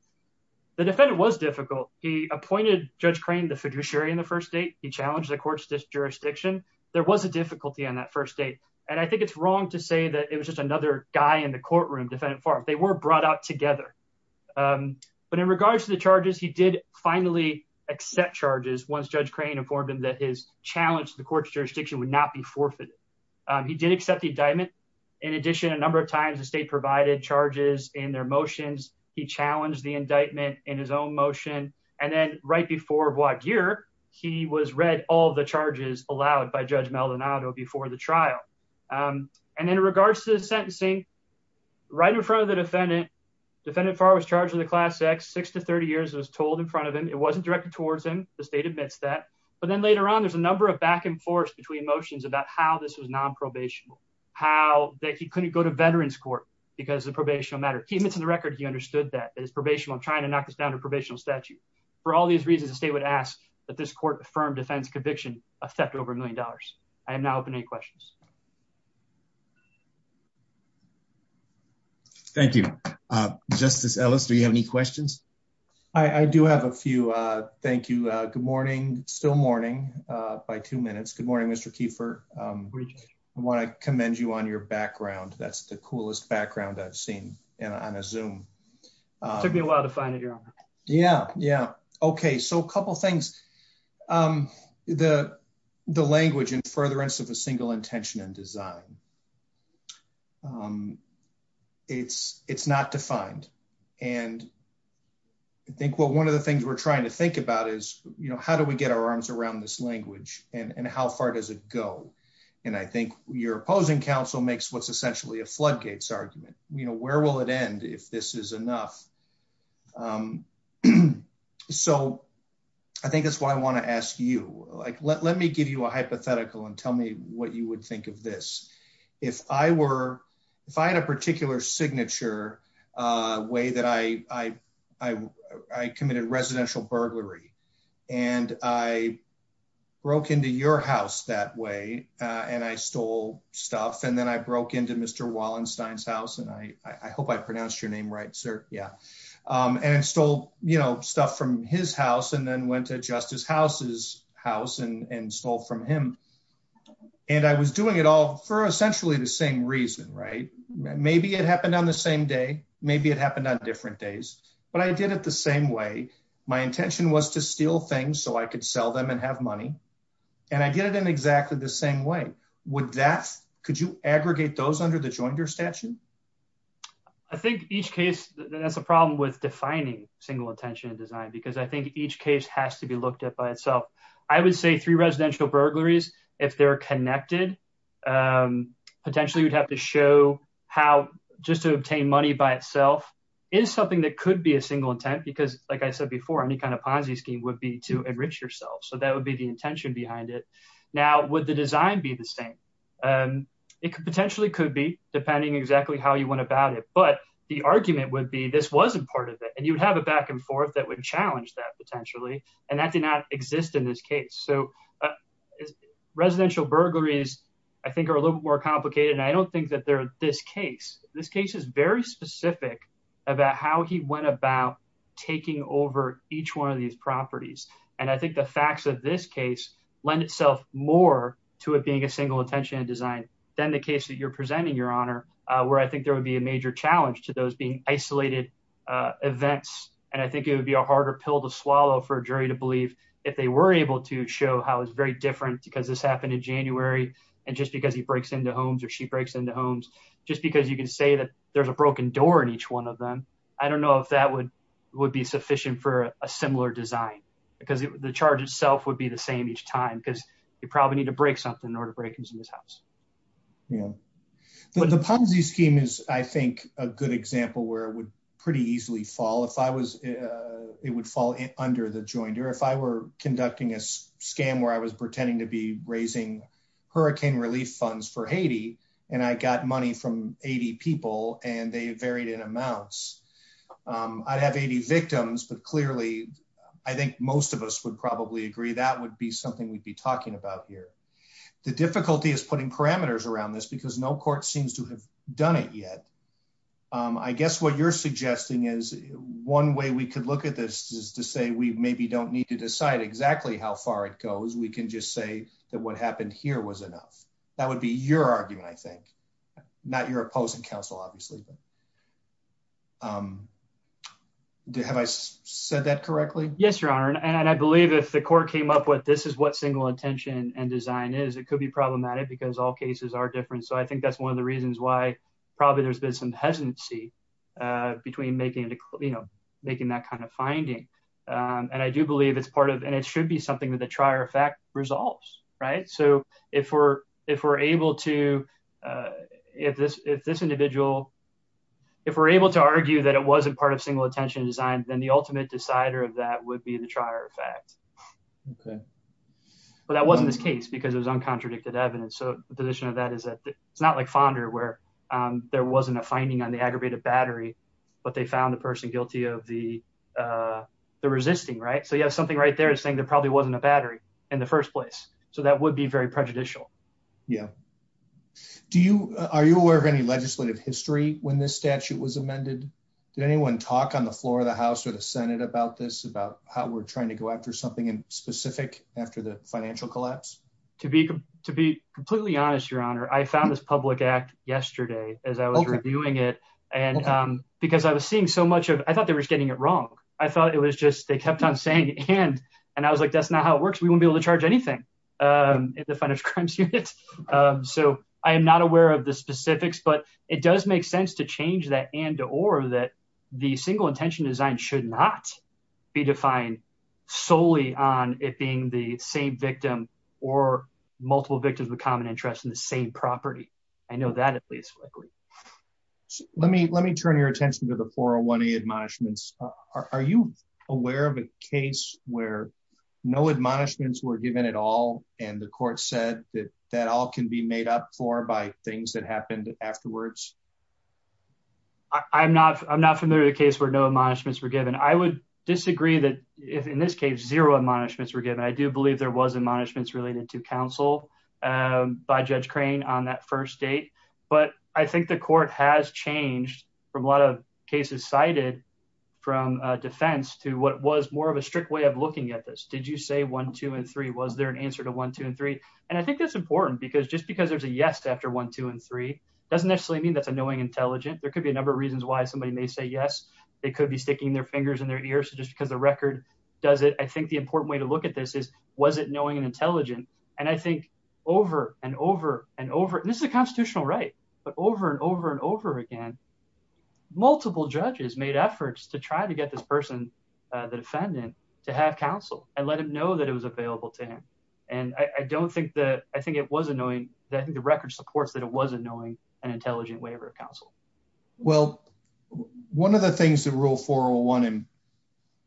The defendant was difficult. He appointed Judge Crane the fiduciary in the first date. He challenged the court's jurisdiction. There was a difficulty on that first date. And I think it's wrong to say that it was just another guy in the courtroom, defendant informed. They were brought up together. But in regards to the charges, he did finally accept charges once Judge Crane informed him that his challenge to the court's jurisdiction would not be forfeited. He did accept the indictment. In addition, a number of times the state provided charges in their motions. He challenged the indictment in his own motion. And then right before void year, he was read all the charges allowed by Judge Maldonado before the trial. And in regards to the sentencing, right in front of the defendant, defendant Farr was charged in the class X six to 30 years. It was told in front of him. It wasn't directed towards him. The state admits that. But then later on, there's a number of back and forth between motions about how this was nonprobational, how he couldn't go to veterans court because of the probation matter. Keep it to the record if you understood that. It's probation. I'm trying to knock this down to a probational statute. For all these reasons, the state would ask that this court affirm defendant's conviction of theft over a million dollars. I now have any questions. Thank you, Justice Ellis. Do you have any questions? I do have a few. Thank you. Good morning. Still morning by two minutes. Good morning, Mr. Keeper. I want to commend you on your background. That's the coolest background I've seen on a zoom. Took me a while to find it. Yeah. Yeah. Okay. So a couple things. The, the language and furtherance of a single intention and design. It's, it's not defined. And I think, well, one of the things we're trying to think about is, you know, how do we get our arms around this language, and how far does it go. And I think your opposing counsel makes what's essentially a floodgates argument, you know, where will it end if this is enough. So I think that's why I want to ask you, like, let me give you a hypothetical and tell me what you would think of this. If I were, if I had a particular signature way that I, I, I, I committed residential burglary. And I broke into your house that way. And I stole stuff and then I broke into Mr. Wallenstein's house and I, I hope I pronounced your name right, sir. Yeah. And so, you know, stuff from his house and then went to justice houses house and stole from him. And I was doing it all for essentially the same reason. Right. Maybe it happened on the same day. Maybe it happened on different days, but I did it the same way. My intention was to steal things so I could sell them and have money and I did it in exactly the same way. Would that, could you aggregate those under the joint your statute. I think each case that has a problem with defining single intention design because I think each case has to be looked at by itself. I would say three residential burglaries, if they're connected. Potentially we'd have to show how just to obtain money by itself is something that could be a single intent because like I said before, any kind of Ponzi scheme would be to enrich yourself so that would be the intention behind it. Now, with the design be the same. It could potentially could be depending exactly how you went about it, but the argument would be this wasn't part of it and you'd have a back and forth that would challenge that potentially, and that did not exist in this case so Residential burglaries, I think, are a little more complicated and I don't think that there's this case, this case is very specific about how he went about Taking over each one of these properties. And I think the facts of this case lend itself more to it being a single intention design than the case that you're presenting your honor, where I think there would be a major challenge to those being isolated Events, and I think it would be a harder pill to swallow for jury to believe if they were able to show how it's very different because this happened in January. And just because he breaks into homes or she breaks into homes, just because you can say that there's a broken door in each one of them. I don't know if that would Would be sufficient for a similar design because the charge itself would be the same each time because you probably need to break something in order to break into this house. But the policy scheme is, I think, a good example where it would pretty easily fall if I was It would fall under the joint or if I were conducting a scam where I was pretending to be raising hurricane relief funds for Haiti and I got money from 80 people and they varied in amounts I'd have 80 victims, but clearly I think most of us would probably agree that would be something we'd be talking about here. The difficulty is putting parameters around this because no court seems to have done it yet. I guess what you're suggesting is one way we could look at this is to say we maybe don't need to decide exactly how far it goes. We can just say that what happened here was enough. That would be your argument, I think, not your opposing counsel, obviously. Have I said that correctly. Yes, your honor. And I believe if the court came up with this is what single intention and design is it could be problematic because all cases are different. So I think that's one of the reasons why probably there's been some hesitancy. Between making it, you know, making that kind of finding and I do believe it's part of and it should be something that the trier effect resolves. Right. So if we're, if we're able to If this, if this individual, if we're able to argue that it wasn't part of single attention design, then the ultimate decider of that would be the trier effect. But that wasn't the case because it was uncontradicted evidence. So the position of that is that it's not like Fonda where there wasn't a finding on the aggravated battery, but they found the person guilty of the The resisting right so you have something right there saying there probably wasn't a battery in the first place. So that would be very prejudicial. Yeah. Do you are you aware of any legislative history when this statute was amended. Did anyone talk on the floor of the House or the Senate about this, about how we're trying to go after something in specific after the financial collapse. To be to be completely honest, your honor. I found this public act yesterday as I was reviewing it and Because I was seeing so much of I thought they were getting it wrong. I thought it was just they kept on saying, and and I was like, that's not how it works. We won't be able to charge anything If the fund of currency. So I am not aware of the specifics, but it does make sense to change that and or that the single intention design should not be defined solely on it being the same victim or multiple victims of common interest in the same property. I know that at least Let me, let me turn your attention to the 401 a admonishments. Are you aware of a case where no admonishments were given at all. And the court said that that all can be made up for by things that happened afterwards. I'm not, I'm not familiar with a case where no admonishments were given. I would disagree that if in this case zero admonishments were given. I do believe there was admonishments related to counsel. By Judge crane on that first date, but I think the court has changed from a lot of cases cited From defense to what was more of a strict way of looking at this. Did you say one, two, and three. Was there an answer to one, two, and three. And I think that's important because just because there's a yes after one, two, and three doesn't necessarily mean that the knowing intelligent, there could be a number of reasons why somebody may say yes It could be sticking their fingers in their ears. Just because the record does it. I think the important way to look at this is, was it knowing and intelligent and I think over and over and over. And this is a constitutional right but over and over and over again. Multiple judges made efforts to try to get this person, the defendant to have counsel and let him know that it was available to him. And I don't think that I think it wasn't knowing that the record supports that it wasn't knowing and intelligent way of counsel. Well, one of the things that rule 401 and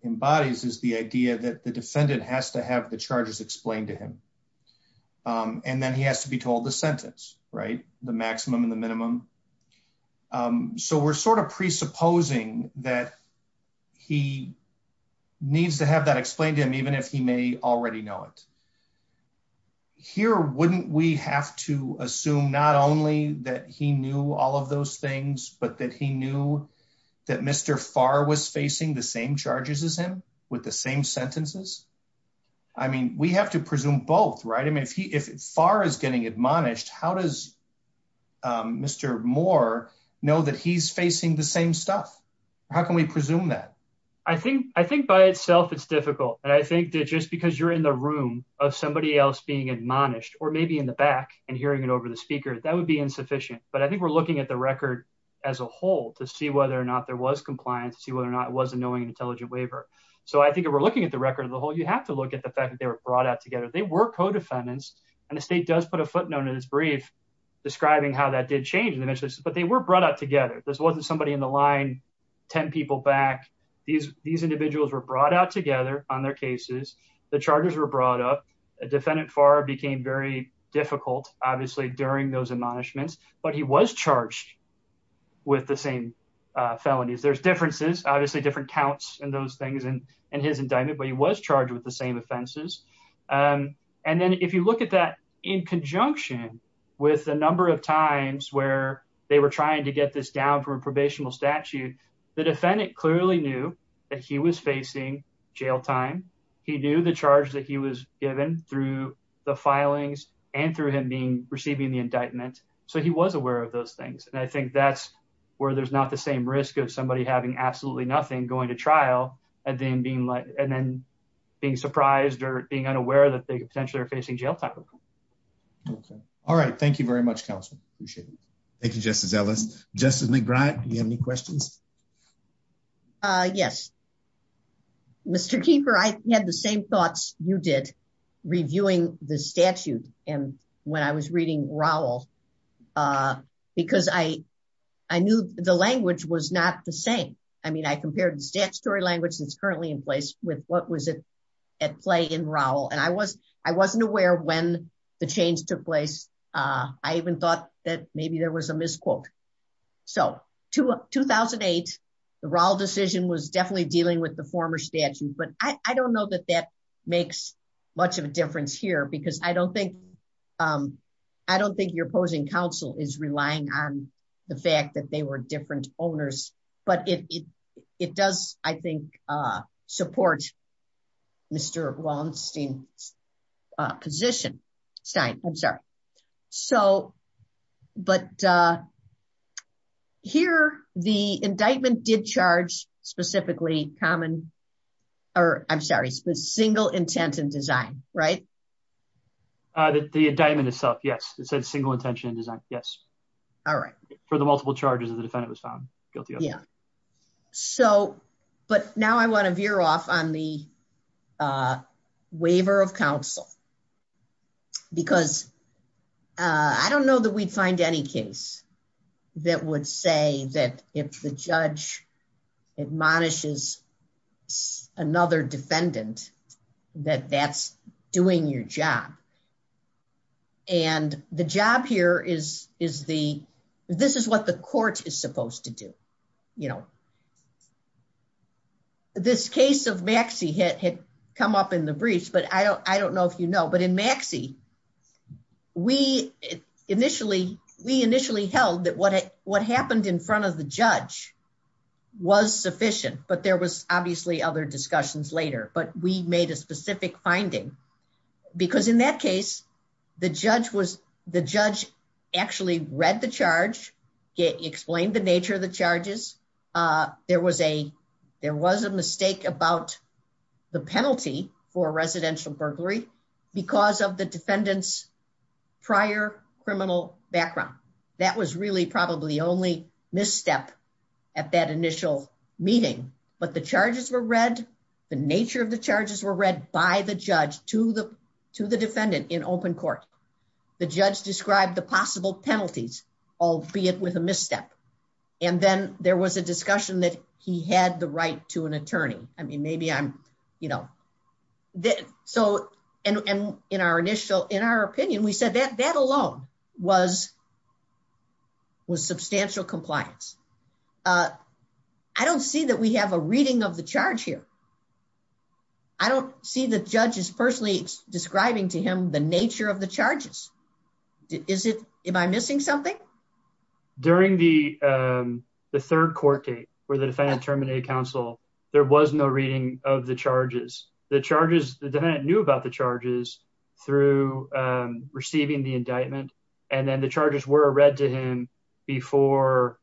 embodies is the idea that the defendant has to have the charges explained to him. And then he has to be told the sentence right the maximum and the minimum So we're sort of presupposing that he needs to have that explained to him, even if he may already know it. Here, wouldn't we have to assume not only that he knew all of those things, but that he knew that Mr. Farr was facing the same charges as him with the same sentences. I mean, we have to presume both right and if he if far as getting admonished. How does Mr. Moore know that he's facing the same stuff. How can we presume that I think, I think by itself. It's difficult. And I think that just because you're in the room of somebody else being admonished or maybe in the back and hearing it over the speaker that would be insufficient, but I think we're looking at the record. As a whole, to see whether or not there was compliance, see whether or not wasn't knowing intelligent waiver. So I think we're looking at the record of the whole, you have to look at the fact that they were brought up together. They were co defendants and the state does put a footnote in his brief. Describing how that did change, but they were brought up together. This wasn't somebody in the line 10 people back These, these individuals were brought out together on their cases, the charges were brought up a defendant far became very difficult, obviously, during those admonishments, but he was charged With the same felonies. There's differences, obviously different counts and those things and and his indictment, but he was charged with the same offenses. And then if you look at that in conjunction with the number of times where they were trying to get this down from probation will statute. The defendant clearly knew that he was facing jail time. He knew the charge that he was given through the filings and through him being receiving the indictment. So he was aware of those things. And I think that's where there's not the same risk of somebody having absolutely nothing going to trial and then being like and then being surprised or being unaware that they essentially are facing jail time. All right. Thank you very much. Appreciate it. Thank you. Just as I was just in the back. You have any questions. Yes. Mr. Keeper, I had the same thoughts you did reviewing the statute. And when I was reading Raul Because I, I knew the language was not the same. I mean, I compared the statutory language that's currently in place with what was it at play in Raul and I wasn't, I wasn't aware when the change took place. I even thought that maybe there was a misquote. So 2008 the Raul decision was definitely dealing with the former statute, but I don't know that that makes much of a difference here because I don't think I don't think your opposing counsel is relying on the fact that they were different owners, but it, it does, I think, support. Mr. Wallenstein's position. I'm sorry. So, but Here the indictment did charge specifically common or I'm sorry, the single intent in design. Right. The indictment itself. Yes, it's a single intention. Yes. All right. For the multiple charges of the defendant was found guilty. Yeah. So, but now I want to veer off on the Waiver of counsel. Because I don't know that we find any case that would say that if the judge admonishes Another defendant that that's doing your job. And the job here is, is the, this is what the court is supposed to do, you know, This case of Maxie had come up in the briefs, but I don't, I don't know if you know, but in Maxie We initially we initially held that what it what happened in front of the judge was sufficient, but there was obviously other discussions later, but we made a specific finding Because in that case, the judge was the judge actually read the charge it explained the nature of the charges. There was a there was a mistake about the penalty for residential burglary because of the defendants prior criminal background. That was really probably the only misstep. At that initial meeting, but the charges were read the nature of the charges were read by the judge to the to the defendant in open court. The judge described the possible penalties, albeit with a misstep. And then there was a discussion that he had the right to an attorney. I mean, maybe I'm, you know, that. So, and in our initial in our opinion, we said that that alone was Was substantial compliance. I don't see that we have a reading of the charge here. I don't see the judges personally describing to him the nature of the charges. Is it am I missing something During the third court date for the defense terminated counsel, there was no reading of the charges, the charges that I knew about the charges through receiving the indictment and then the charges were read to him before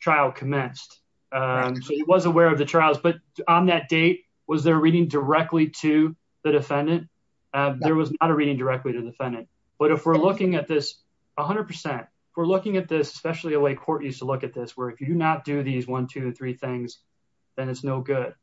Trial commenced. He was aware of the trials, but on that date was there reading directly to the defendant. There was not a reading directly to the defendant. But if we're looking at this 100% we're looking at this, especially like court used to look at this work. You do not do these 123 things, then it's no good.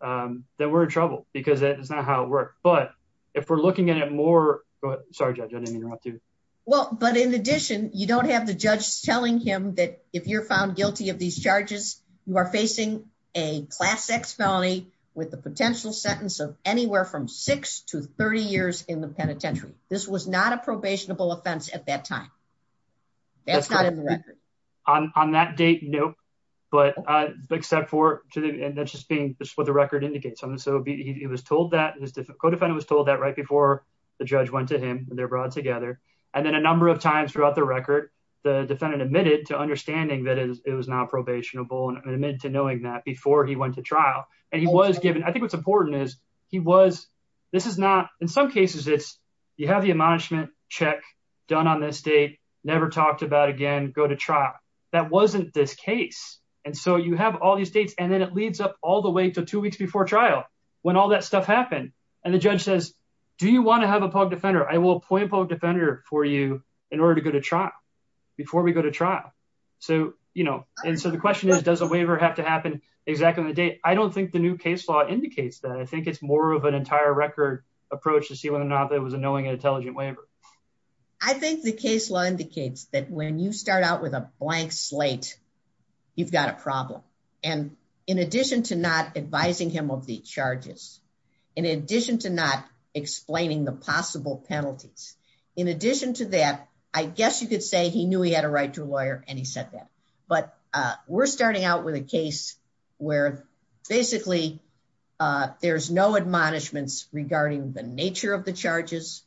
Then we're in trouble because that is not how it works. But if we're looking at it more. But sorry, I didn't interrupt you. Well, but in addition, you don't have the judge telling him that if you're found guilty of these charges, you are facing a class X felony with the potential sentence of anywhere from six to 30 years in the penitentiary. This was not a probationable offense at that time. On that date. Nope. But except for today. And that's just being what the record indicates. And so he was told that co defendant was told that right before the judge went to him and they're brought together. And then a number of times throughout the record. The defendant admitted to understanding that it was not probationable and admitted to knowing that before he went to trial and he was given. I think what's important is he was This is not in some cases, it's you have the admonishment check done on this date never talked about again go to trial. That wasn't this case. And so you have all these dates and then it leads up all the way to two weeks before trial when all that stuff happened. And the judge says, Do you want to have a public defender, I will appoint a public defender for you in order to go to trial. Before we go to trial. So, you know, and so the question is, does a waiver have to happen exactly the day. I don't think the new case law indicates that I think it's more of an entire record approach to see whether or not there was a knowing intelligent waiver. I think the case law indicates that when you start out with a blank slate. You've got a problem. And in addition to not advising him of the charges. In addition to not explaining the possible penalties. In addition to that, I guess you could say he knew he had a right to a lawyer and he said that, but we're starting out with a case where basically There's no admonishments regarding the nature of the charges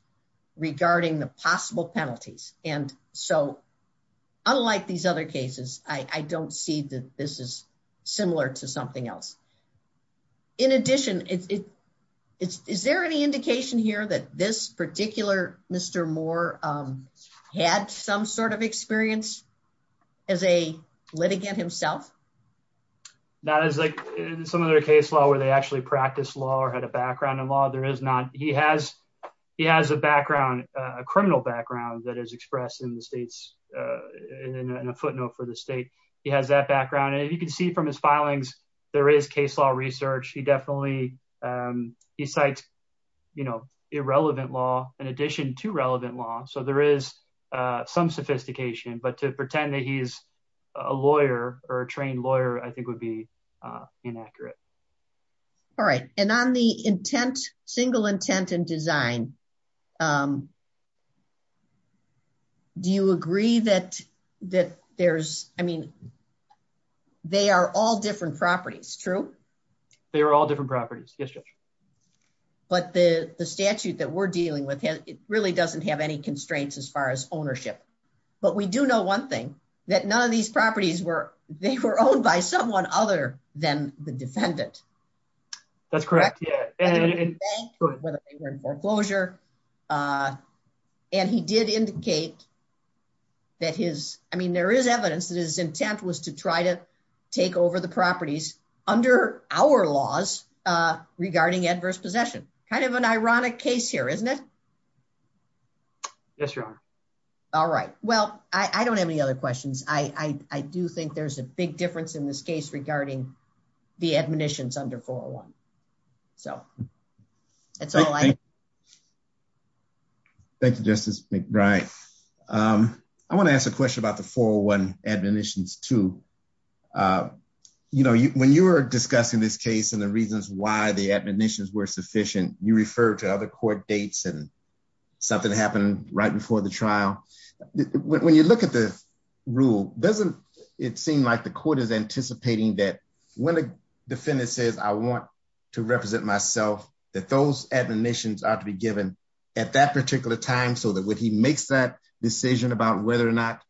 regarding the possible penalties and so unlike these other cases, I don't see that this is similar to something else. In addition, is there any indication here that this particular Mr. Moore had some sort of experience as a litigant himself. That is like some other case law where they actually practice law or had a background in law, there is not. He has he has a background criminal background that is expressed in the states. In a footnote for the state. He has that background. And you can see from his filings. There is case law research. He definitely he's like You know irrelevant law. In addition to relevant law. So there is some sophistication, but to pretend that he's a lawyer or a trained lawyer, I think would be inaccurate. All right. And on the intent single intent and design. Do you agree that that there's, I mean, They are all different properties. True. They're all different properties. But the statute that we're dealing with it really doesn't have any constraints as far as ownership, but we do know one thing that none of these properties were they were owned by someone other than the defendant. That's correct. Yeah. And he did indicate That is, I mean, there is evidence that is intent was to try to take over the properties under our laws regarding adverse possession kind of an ironic case here, isn't it. All right. Well, I don't have any other questions. I do think there's a big difference in this case regarding the admissions under 401 So, It's all I Think justice. Right. I want to ask a question about the 401 admissions to You know, when you were discussing this case and the reasons why the admissions were sufficient you refer to other court dates and Something happened right before the trial. When you look at the rule, doesn't it seem like the court is anticipating that when a Defendant says I want to represent myself that those administrations are to be given at that particular time so that when he makes that decision about whether or not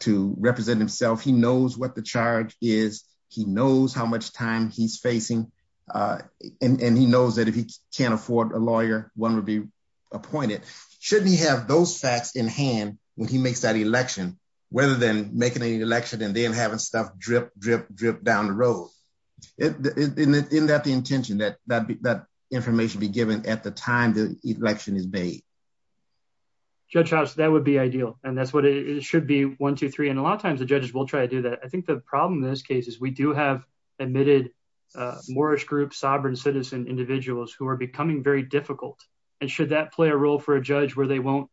To represent himself. He knows what the charge is he knows how much time he's facing And he knows that if he can't afford a lawyer, one would be appointed. Shouldn't he have those facts in hand when he makes that election, whether than making an election and then having stuff drip, drip, drip down the road. In that the intention that that information be given at the time the election is made. Judge house that would be ideal. And that's what it should be 123 and a lot of times the judges will try to do that. I think the problem in this case is we do have admitted Moorish group sovereign citizen individuals who are becoming very difficult and should that play a role for a judge where they won't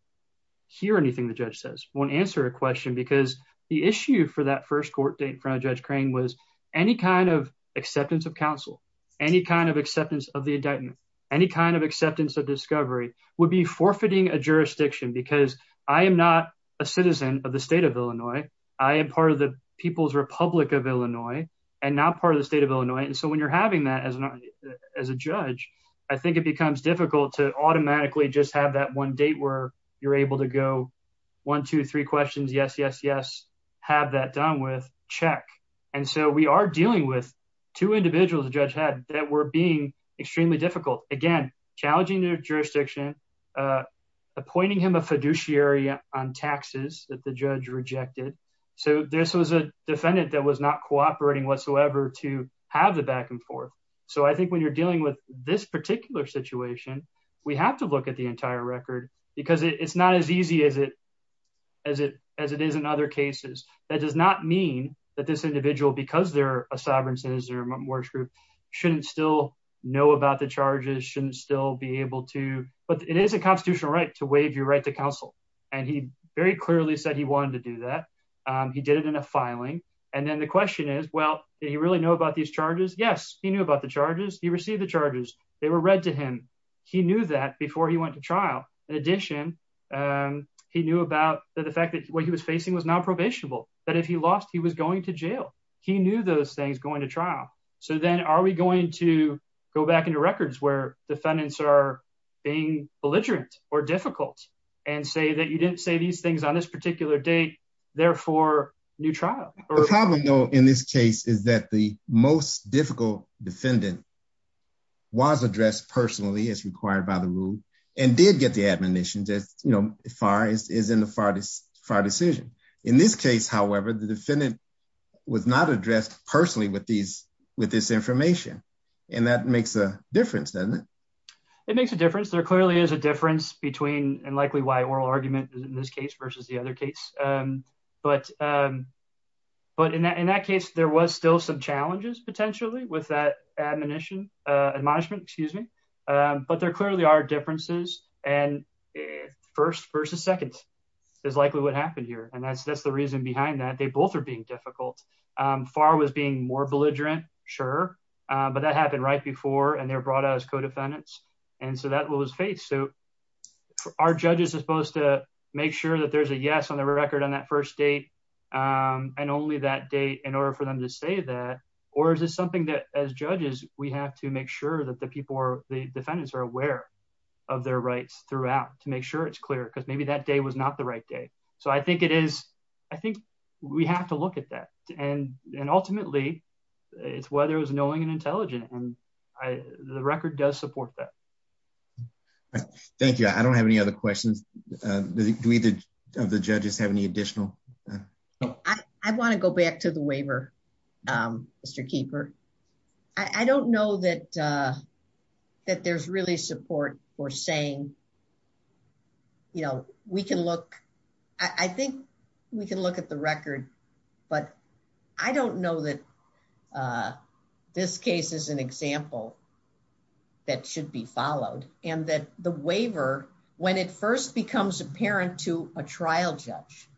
Won't answer a question because the issue for that first court date project crane was any kind of acceptance of counsel. Any kind of acceptance of the indictment, any kind of acceptance of discovery would be forfeiting a jurisdiction, because I am not a citizen of the state of Illinois. I am part of the People's Republic of Illinois and not part of the state of Illinois. And so when you're having that as As a judge, I think it becomes difficult to automatically just have that one date where you're able to go 123 questions. Yes, yes, yes. Have that done with check. And so we are dealing with two individuals judge had that were being extremely difficult again challenging jurisdiction. Appointing him a fiduciary on taxes that the judge rejected. So this was a defendant that was not cooperating whatsoever to have the back and forth. So I think when you're dealing with this particular situation, we have to look at the entire record because it's not as easy as it As it as it is in other cases, that does not mean that this individual because they're a sovereign citizen or more true Shouldn't still know about the charges shouldn't still be able to, but it is a constitutional right to waive your right to counsel and he very clearly said he wanted to do that. He did it in a filing and then the question is, well, do you really know about these charges. Yes, he knew about the charges he received the charges, they were read to him. He knew that before he went to trial. In addition, and he knew about the fact that what he was facing was non probationable, but if he lost. He was going to jail. He knew those things going to trial. So then are we going to go back into records where defendants are being belligerent or difficult and say that you didn't say these things on this particular day therefore new trial. In this case is that the most difficult defendant. Was addressed personally as required by the rule and did get the admonition that, you know, fires is in the farthest far decision. In this case, however, the defendant was not addressed personally with these with this information and that makes a difference. It makes a difference. There clearly is a difference between and likely why oral argument in this case versus the other case, but But in that case, there was still some challenges, potentially, with that admonition admonishment, excuse me, but there clearly are differences and First versus second is likely what happened here. And that's, that's the reason behind that they both are being difficult far was being more belligerent. Sure. But that happened right before and they're brought as co defendants and so that was faith. So our judges, as opposed to make sure that there's a yes on the record on that first date. And only that date in order for them to say that, or is it something that as judges, we have to make sure that the people are the defendants are aware Of their rights throughout to make sure it's clear because maybe that day was not the right day. So I think it is. I think we have to look at that and and ultimately it's whether it was knowing and intelligent and I the record does support that. Thank you. I don't have any other questions. The judges have any additional I want to go back to the waiver. Keeper. I don't know that. That there's really support for saying You know, we can look. I think we can look at the record, but I don't know that. This case is an example. That should be followed and that the waiver when it first becomes apparent to a trial judge.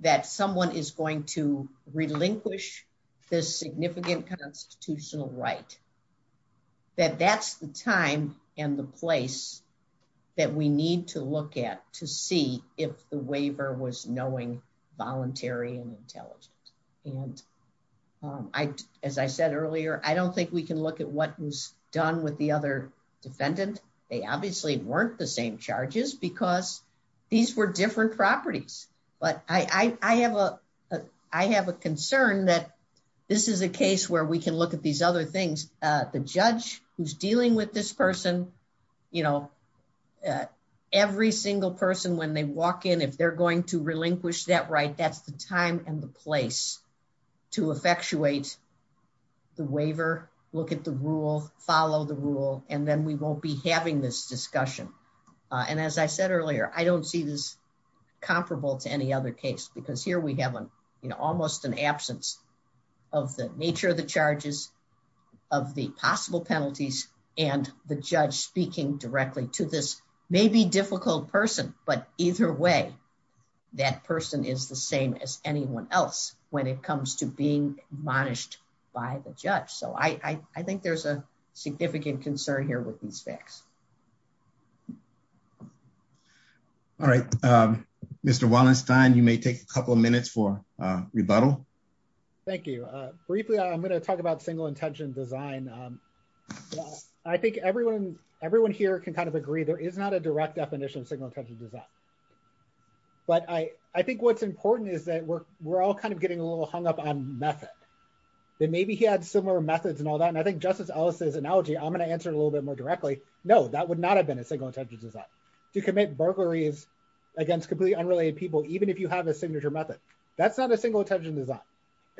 That someone is going to relinquish the significant constitutional right That that's the time and the place that we need to look at to see if the waiver was knowing voluntary and But I have a I have a concern that this is a case where we can look at these other things. The judge who's dealing with this person, you know, Every single person when they walk in. If they're going to relinquish that right that's the time and the place to effectuate The waiver. Look at the rule follow the rule and then we won't be having this discussion. And as I said earlier, I don't see this Comparable to any other case because here we have an, you know, almost an absence of the nature of the charges. Of the possible penalties and the judge speaking directly to this may be difficult person, but either way. That person is the same as anyone else when it comes to being managed by the judge. So I think there's a significant concern here with these facts. All right, Mr. Wallenstein, you may take a couple of minutes for rebuttal. Thank you. Briefly, I'm going to talk about single intention design. I think everyone, everyone here can kind of agree there is not a direct definition of single intention design. But I, I think what's important is that we're, we're all kind of getting a little hung up on method. Maybe he had similar methods and all that. And I think Justice Ellis's analogy. I'm going to answer a little bit more directly. No, that would not have been a single intention design. To commit burglaries against completely unrelated people, even if you have a signature method. That's not a single intention design.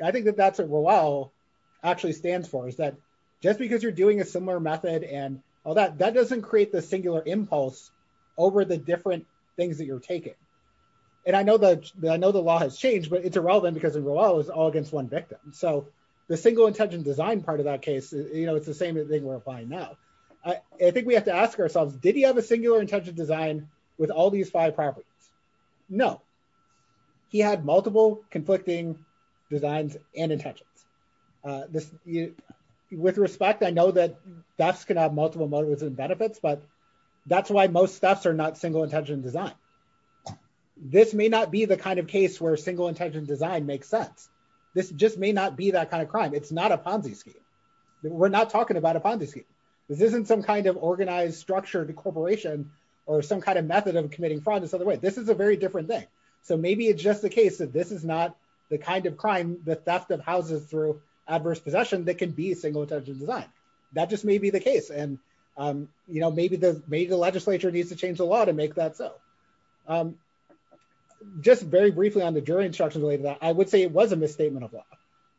I think that that's what Roel actually stands for is that just because you're doing a similar method and all that, that doesn't create the singular impulse over the different things that you're taking. And I know that I know the law has changed, but it's irrelevant because Roel is all against one victim. So the single intention design part of that case, you know, it's the same thing we're applying now. I think we have to ask ourselves, did he have a singular intention design with all these five properties? No. He had multiple conflicting designs and intentions. With respect, I know that thefts could have multiple motives and benefits, but that's why most thefts are not single intention design. This may not be the kind of case where single intention design makes sense. This just may not be that kind of crime. It's not a Ponzi scheme. We're not talking about a Ponzi scheme. This isn't some kind of organized structured corporation or some kind of method of committing fraud. This is a very different thing. So maybe it's just the case that this is not the kind of crime, the theft that houses through adverse possession that can be a single intention design. That just may be the case. And, you know, maybe the legislature needs to change the law to make that so. Just very briefly on the jury instructions related to that, I would say it was a misstatement of law.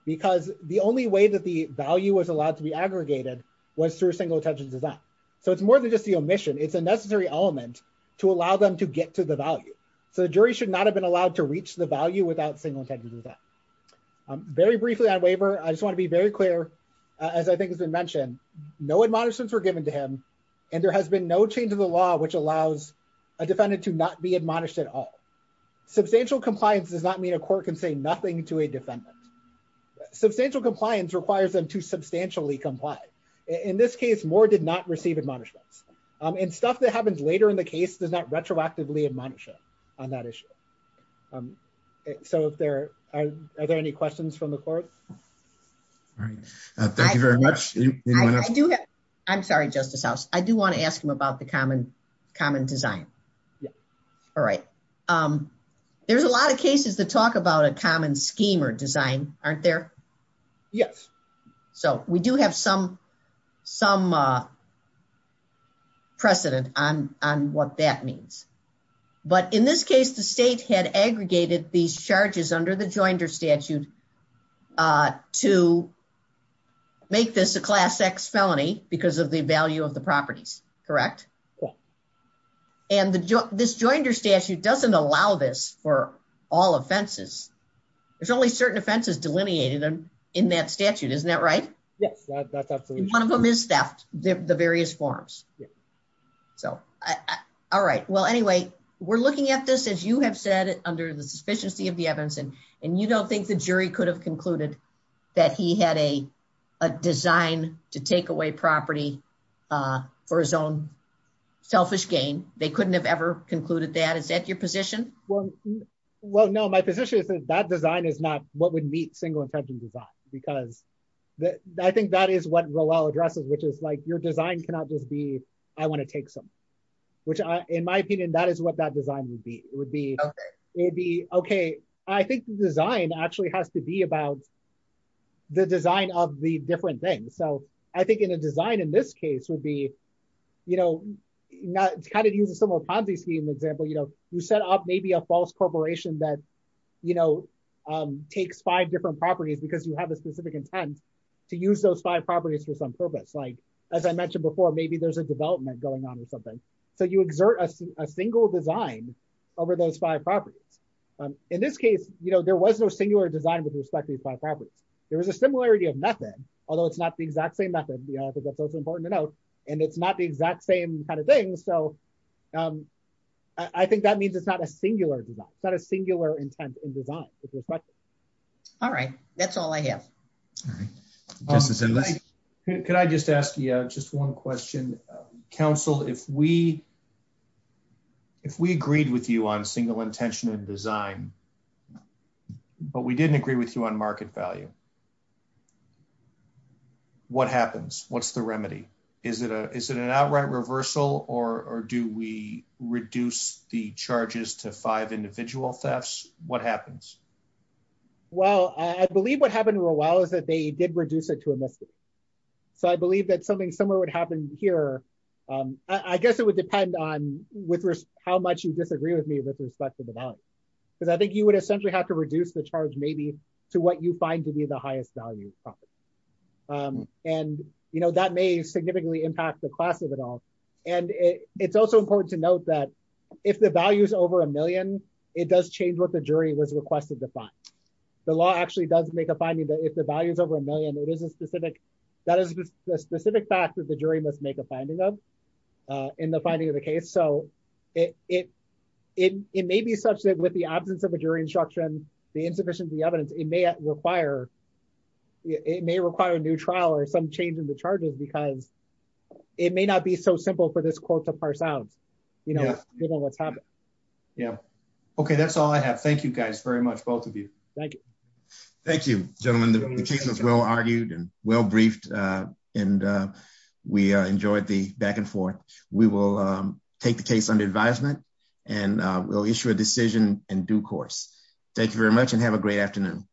Because the only way that the value was allowed to be aggregated was through a single intention design. So it's more than just the omission. It's a necessary element to allow them to get to the value. So the jury should not have been allowed to reach the value without single intention design. Very briefly on Weber, I just want to be very clear, as I think has been mentioned, no admonishments were given to him and there has been no change of the law which allows a defendant to not be admonished at all. Substantial compliance does not mean a court can say nothing to a defendant. Substantial compliance requires them to substantially comply. In this case, Moore did not receive admonishments. And stuff that happens later in the case does not retroactively admonish him on that issue. So are there any questions from the court? Thank you very much. I'm sorry, Justice House, I do want to ask him about the common design. All right. There's a lot of cases to talk about a common scheme or design, aren't there? Yes. So we do have some precedent on what that means. But in this case, the state had aggregated these charges under the Joinders statute to make this a Class X felony because of the value of the properties, correct? Yes. And this Joinders statute doesn't allow this for all offenses. There's only certain offenses delineated in that statute, isn't that right? Yes. And one of them is theft, the various forms. All right. Well, anyway, we're looking at this, as you have said, under the suspicions of the evidence. And you don't think the jury could have concluded that he had a design to take away property for his own selfish gain. They couldn't have ever concluded that. Is that your position? Well, no, my position is that that design is not what would meet single incentive design. Because I think that is what the law addresses, which is like, your design cannot just be, I want to take something. Which, in my opinion, that is what that design would be. It would be, okay, I think the design actually has to be about the design of the different things. So I think in a design, in this case, would be, you know, kind of use a similar Ponzi scheme example. You know, you set up maybe a false corporation that, you know, takes five different properties because you have a specific intent to use those five properties for some purpose. Like, as I mentioned before, maybe there's a development going on or something. So you exert a single design over those five properties. In this case, you know, there was no singular design with respect to these five properties. There was a similarity of method, although it's not the exact same method, because that's also important to note. And it's not the exact same kind of thing. So I think that means it's not a singular design. It's not a singular intent in design. All right. That's all I have. Could I just ask you just one question? Council, if we agreed with you on single intention in design, but we didn't agree with you on market value, what happens? What's the remedy? Is it an outright reversal or do we reduce the charges to five individual thefts? What happens? Well, I believe what happened a while is that they did reduce it to a mistake. So I believe that something similar would happen here. I guess it would depend on how much you disagree with me with respect to the value. Because I think you would essentially have to reduce the charge maybe to what you find to be the highest value. And, you know, that may significantly impact the cost of it all. And it's also important to note that if the value is over a million, it does change what the jury was requested to find. The law actually does make a finding that if the value is over a million, that is a specific fact that the jury must make a finding of in the finding of the case. So it may be associated with the absence of a jury instruction, the insufficient of the evidence. It may require a new trial or some change in the charges because it may not be so simple for this court to parse out. Yeah. Yeah. Okay. That's all I have. Thank you guys very much. Both of you. Thank you. Thank you, gentlemen. The case was well argued and well briefed. And we enjoyed the back and forth. We will take the case under advisement and we'll issue a decision in due course. Thank you very much and have a great afternoon.